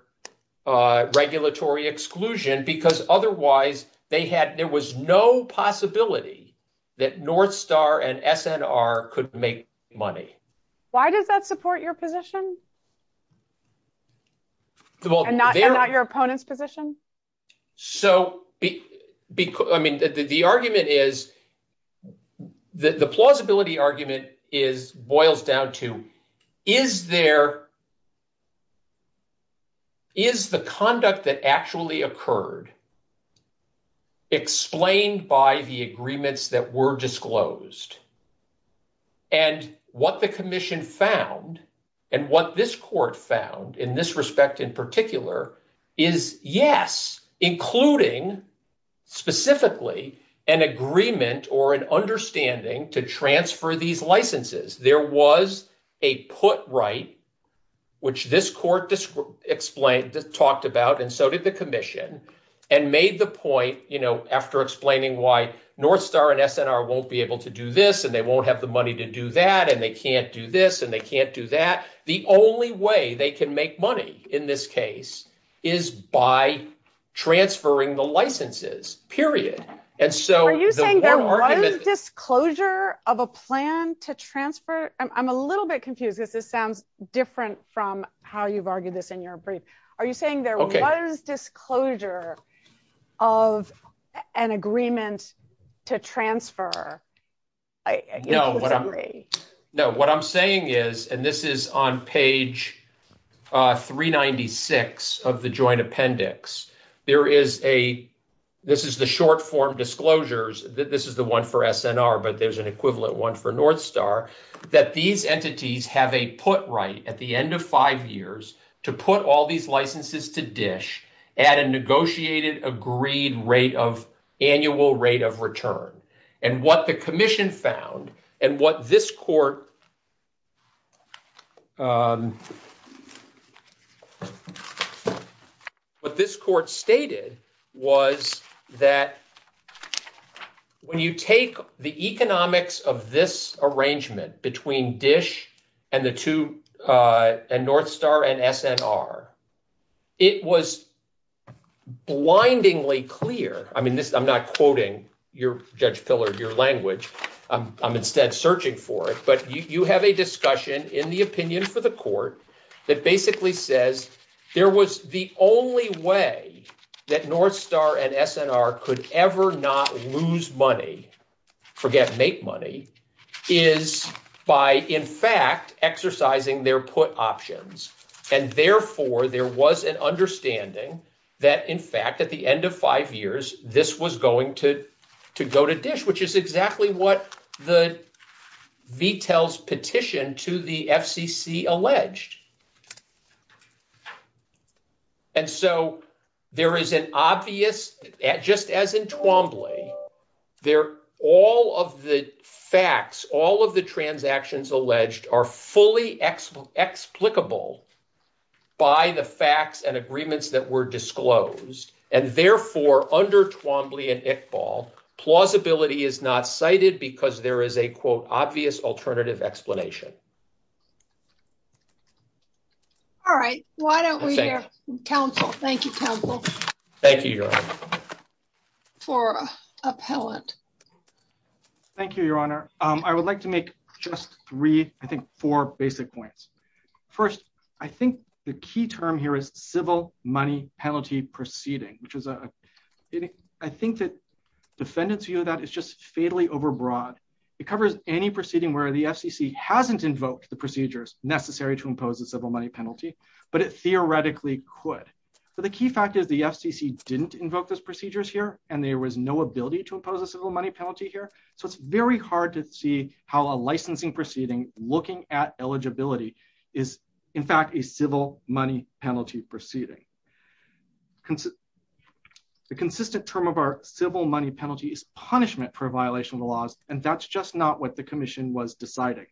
regulatory exclusion because otherwise they had, there was no possibility that Northstar and SNR could make money. Why does that support your position? And not your opponent's position? So, I mean, the argument is, the plausibility argument is, boils down to, is there, is the conduct that actually occurred explained by the agreements that were disclosed? And what the commission found and what this court found in this respect in particular is, yes, including specifically an agreement or an understanding to transfer these licenses. There was a put right, which this court explained, talked about, and so did the commission, and made the point, you know, after explaining why Northstar and SNR won't be able to do this, and they won't have the money to do that, and they can't do this, and they can't do that, the only way they can make money in this case is by transferring the licenses, period. Are you saying there was disclosure of a plan to transfer? I'm a little bit confused because this sounds different from how you've argued this in your brief. Are you saying there was disclosure of an agreement to transfer? No, what I'm saying is, and this is on page 396 of the joint appendix, there is a, this is the short form disclosures, this is the one for SNR, but there's an equivalent one for Northstar, that these entities have a put right at the end of five years to put all these licenses to DISH at a negotiated agreed rate of annual rate of return, and what the commission found, and what this court, what this court stated was that when you take the economics of this arrangement between DISH and the two, and Northstar and SNR, it was blindingly clear, I mean this, I'm not quoting your, Judge Pillard, your language, I'm instead searching for it, but you have a discussion in the opinion for the court that basically says there was the only way that Northstar and SNR could ever not lose money, forget make money, is by in fact exercising their put options, and therefore there was an understanding that in fact at the end of five years this was going to to go to DISH, which is exactly what the details petition to the FCC alleged. And so there is an obvious, just as in Twombly, they're all of the facts, all of the transactions alleged are fully explicable by the facts and agreements that were disclosed, and therefore under Twombly and ITFAL, plausibility is not cited because there is a quote obvious alternative explanation. All right, why don't we have counsel, thank you counsel, thank you for a pellet. Thank you, your honor. I would like to make just three, I think four basic points. First, I think the key term here is civil money penalty proceeding, which is a, I think that defendant's view of that is just fatally overbroad. It covers any proceeding where the FCC hasn't invoked the procedures necessary to impose a civil money penalty, but it theoretically could. So the key fact is the FCC didn't invoke those procedures here, and there was no ability to impose a civil money penalty here, so it's very hard to see how a licensing proceeding looking at eligibility is in fact a civil money penalty proceeding. The consistent term of our civil money penalty is punishment for violation of the laws, and that's just not what the commission was deciding.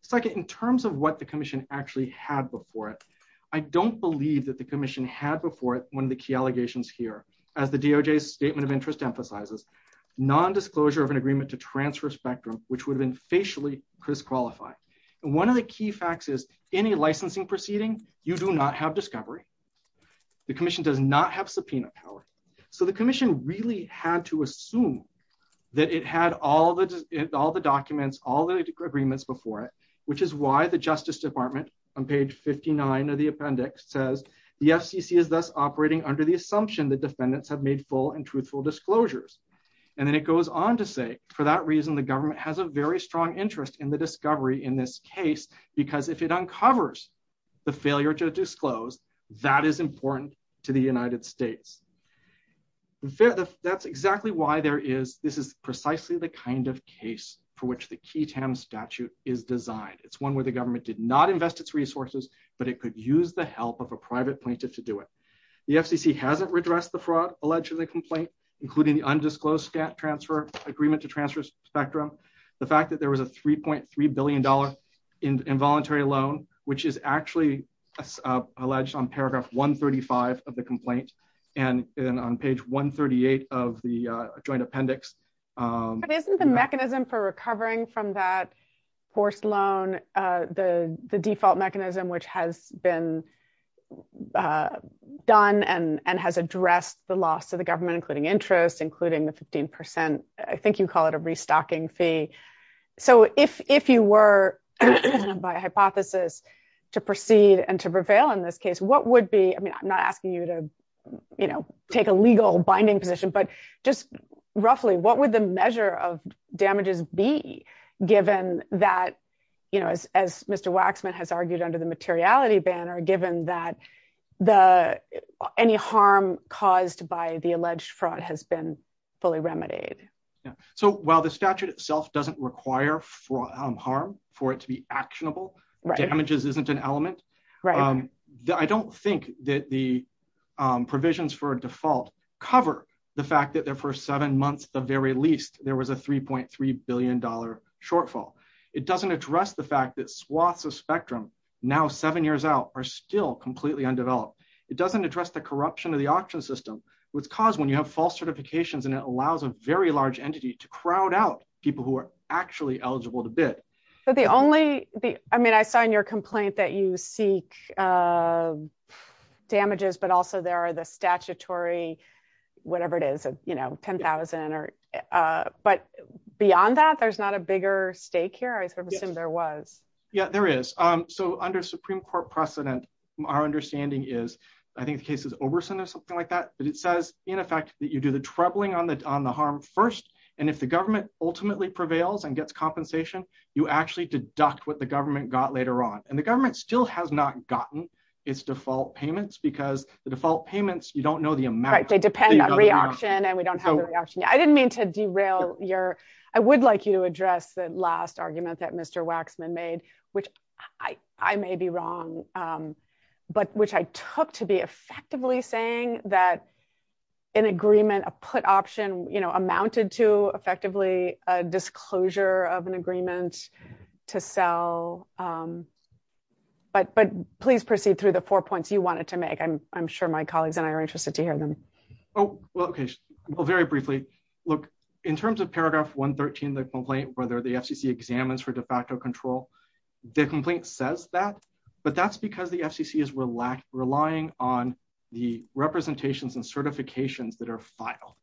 Second, in terms of what the commission actually had before it, I don't believe that the commission had before it one of the key allegations here. As the DOJ's statement of interest emphasizes, non-disclosure of an agreement to transfer spectrum which would have been facially disqualified. And one of the key facts is any licensing proceeding, you do not have discovery. The commission does not have subpoena power. So the commission really had to assume that it had all the documents, all the agreements before it, which is why the Justice Department on page 59 of the appendix says, the FCC is thus operating under the assumption that defendants have made full and truthful disclosures. And then it goes on to say, for that reason, the government has a very strong interest in the discovery in this case, because if it uncovers the failure to disclose, that is important to the United States. That's exactly why there is, this is precisely the kind of case for which the QI-TAM statute is designed. It's one where the government did not invest its resources, but it could use the help of a private plaintiff to do it. The FCC hasn't redressed the fraud alleged to the complaint, including the undisclosed transfer agreement to transfer spectrum. The fact that there was a $3.3 billion involuntary loan, which is actually alleged on paragraph 135 of the complaint and on page 138 of the joint appendix. But isn't the mechanism for recovering from that forced loan, the default mechanism, which has been done and has addressed the loss to the government, including interest, including the 15%, I think you call it a restocking fee. So if you were, by hypothesis, to proceed and to prevail in this case, what would be, I'm not asking you to take a legal binding position, but just roughly, what would the measure of damages be given that, as Mr. Waxman has argued under the materiality banner, given that any harm caused by the alleged fraud has been fully remedied? Yeah. So while the statute itself doesn't require harm for it to be actionable, damages isn't an element. I don't think that the provisions for a default cover the fact that their first seven months, the very least, there was a $3.3 billion shortfall. It doesn't address the fact that swaths of spectrum now seven years out are still completely undeveloped. It doesn't address the corruption of the auction system, which caused when you have false certifications and it allows a very large entity to crowd out people who are actually eligible to bid. So the only, I mean, I find your complaint that you seek damages, but also there are the statutory, whatever it is, you know, 10,000, but beyond that, there's not a bigger stake here? I assume there was. Yeah, there is. So under Supreme Court precedent, our understanding is, I think the case is Oberson or something like that, but it says in effect that you do the troubling on the harm first. And if the government ultimately prevails and gets compensation, you actually deduct what the government got later on. And the government still has not gotten its default payments because the default payments, you don't know the amount. They depend on reaction and we don't have the reaction. I didn't mean to derail your, I would like you to address the last argument that Mr. Waxman made, which I may be wrong, but which I took to be effectively saying that an agreement, a put option, you know, amounted to effectively a disclosure of an agreement to sell. But please proceed through the four points you wanted to make. I'm sure my colleagues and I are interested to hear them. Oh, well, okay. Well, very briefly, look, in terms of paragraph 113, the complaint, whether the FCC examines for de facto control, the complaint says that, but that's because the FCC is relying on the representations and certifications that are filed.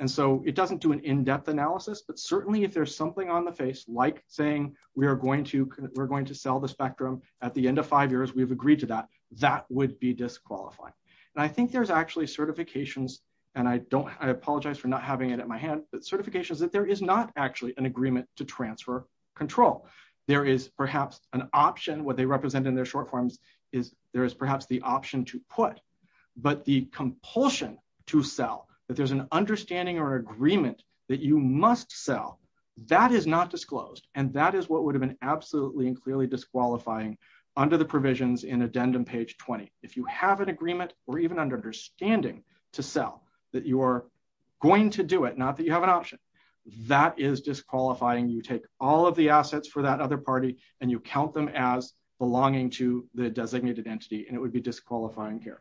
And so it doesn't do an in-depth analysis, but certainly if there's something on the face, like saying we're going to sell the spectrum at the end of five years, we've agreed to that, that would be disqualified. And I think there's actually certifications, and I apologize for not having it at my hand, but certifications that there is not actually an agreement to transfer control. There is perhaps an option, what they represent in their short forms is there is perhaps the option to put, but the compulsion to sell, that there's an understanding or agreement that you must sell, that is not disclosed. And that is what would have been absolutely and clearly disqualifying under the provisions in addendum page 20. If you have an agreement or even an understanding to sell, that you are going to do it, not that you have an option, that is disqualifying. You take all of the assets for that other party and you count them as belonging to the designated entity and it would be disqualifying here.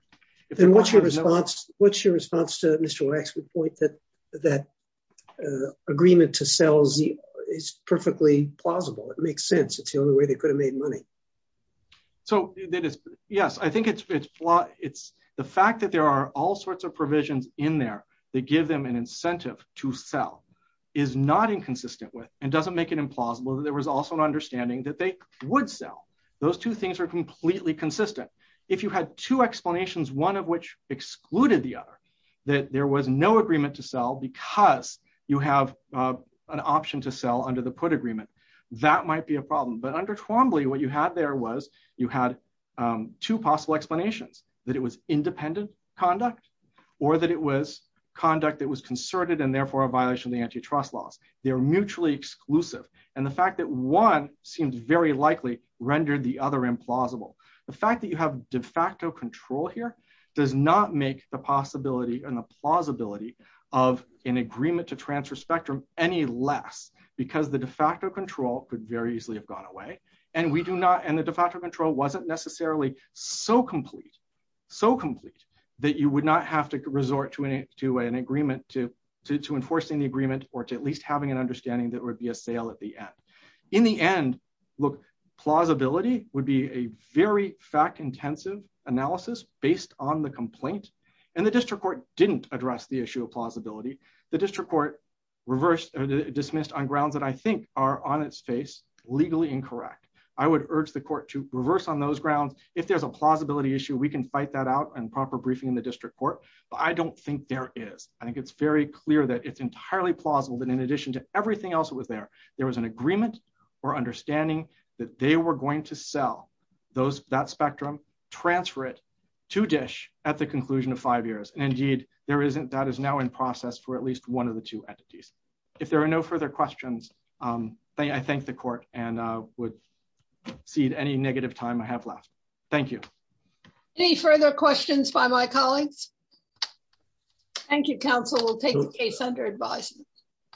And what's your response to Mr. Wexman's point that agreement to sell is perfectly plausible. It makes sense. It's the only way they could have the fact that there are all sorts of provisions in there that give them an incentive to sell is not inconsistent with and doesn't make it implausible that there was also an understanding that they would sell. Those two things are completely consistent. If you had two explanations, one of which excluded the other, that there was no agreement to sell because you have an option to sell under the put agreement, that might be a problem. But under Quambly, what you had there was you had two possible explanations, that it was independent conduct or that it was conduct that was concerted and therefore a violation of the antitrust laws. They were mutually exclusive. And the fact that one seems very likely rendered the other implausible. The fact that you have de facto control here does not make the possibility and the plausibility of an agreement to transfer spectrum any less because the de facto control could very easily have gone away and we do not, and the de facto control wasn't necessarily so complete, so complete that you would not have to resort to an agreement to enforce any agreement or to at least having an understanding that would be a sale at the end. In the end, look, plausibility would be a very fact-intensive analysis based on the complaint and the district court didn't address the issue of plausibility. The district court reversed or dismissed on grounds that I think are on its face legally incorrect. I would urge the court to reverse on those grounds. If there's a plausibility issue, we can fight that out and proper briefing in the district court, but I don't think there is. I think it's very clear that it's entirely plausible that in addition to everything else that was there, there was an agreement or understanding that they were going to sell that spectrum, transfer it to DISH at the conclusion of five years. And indeed, there isn't, that is now in process for at least one of the two entities. If there are no further questions, I thank the court and would cede any negative time I have left. Thank you. Any further questions by my colleagues? Thank you, counsel. We'll take the case under advisory.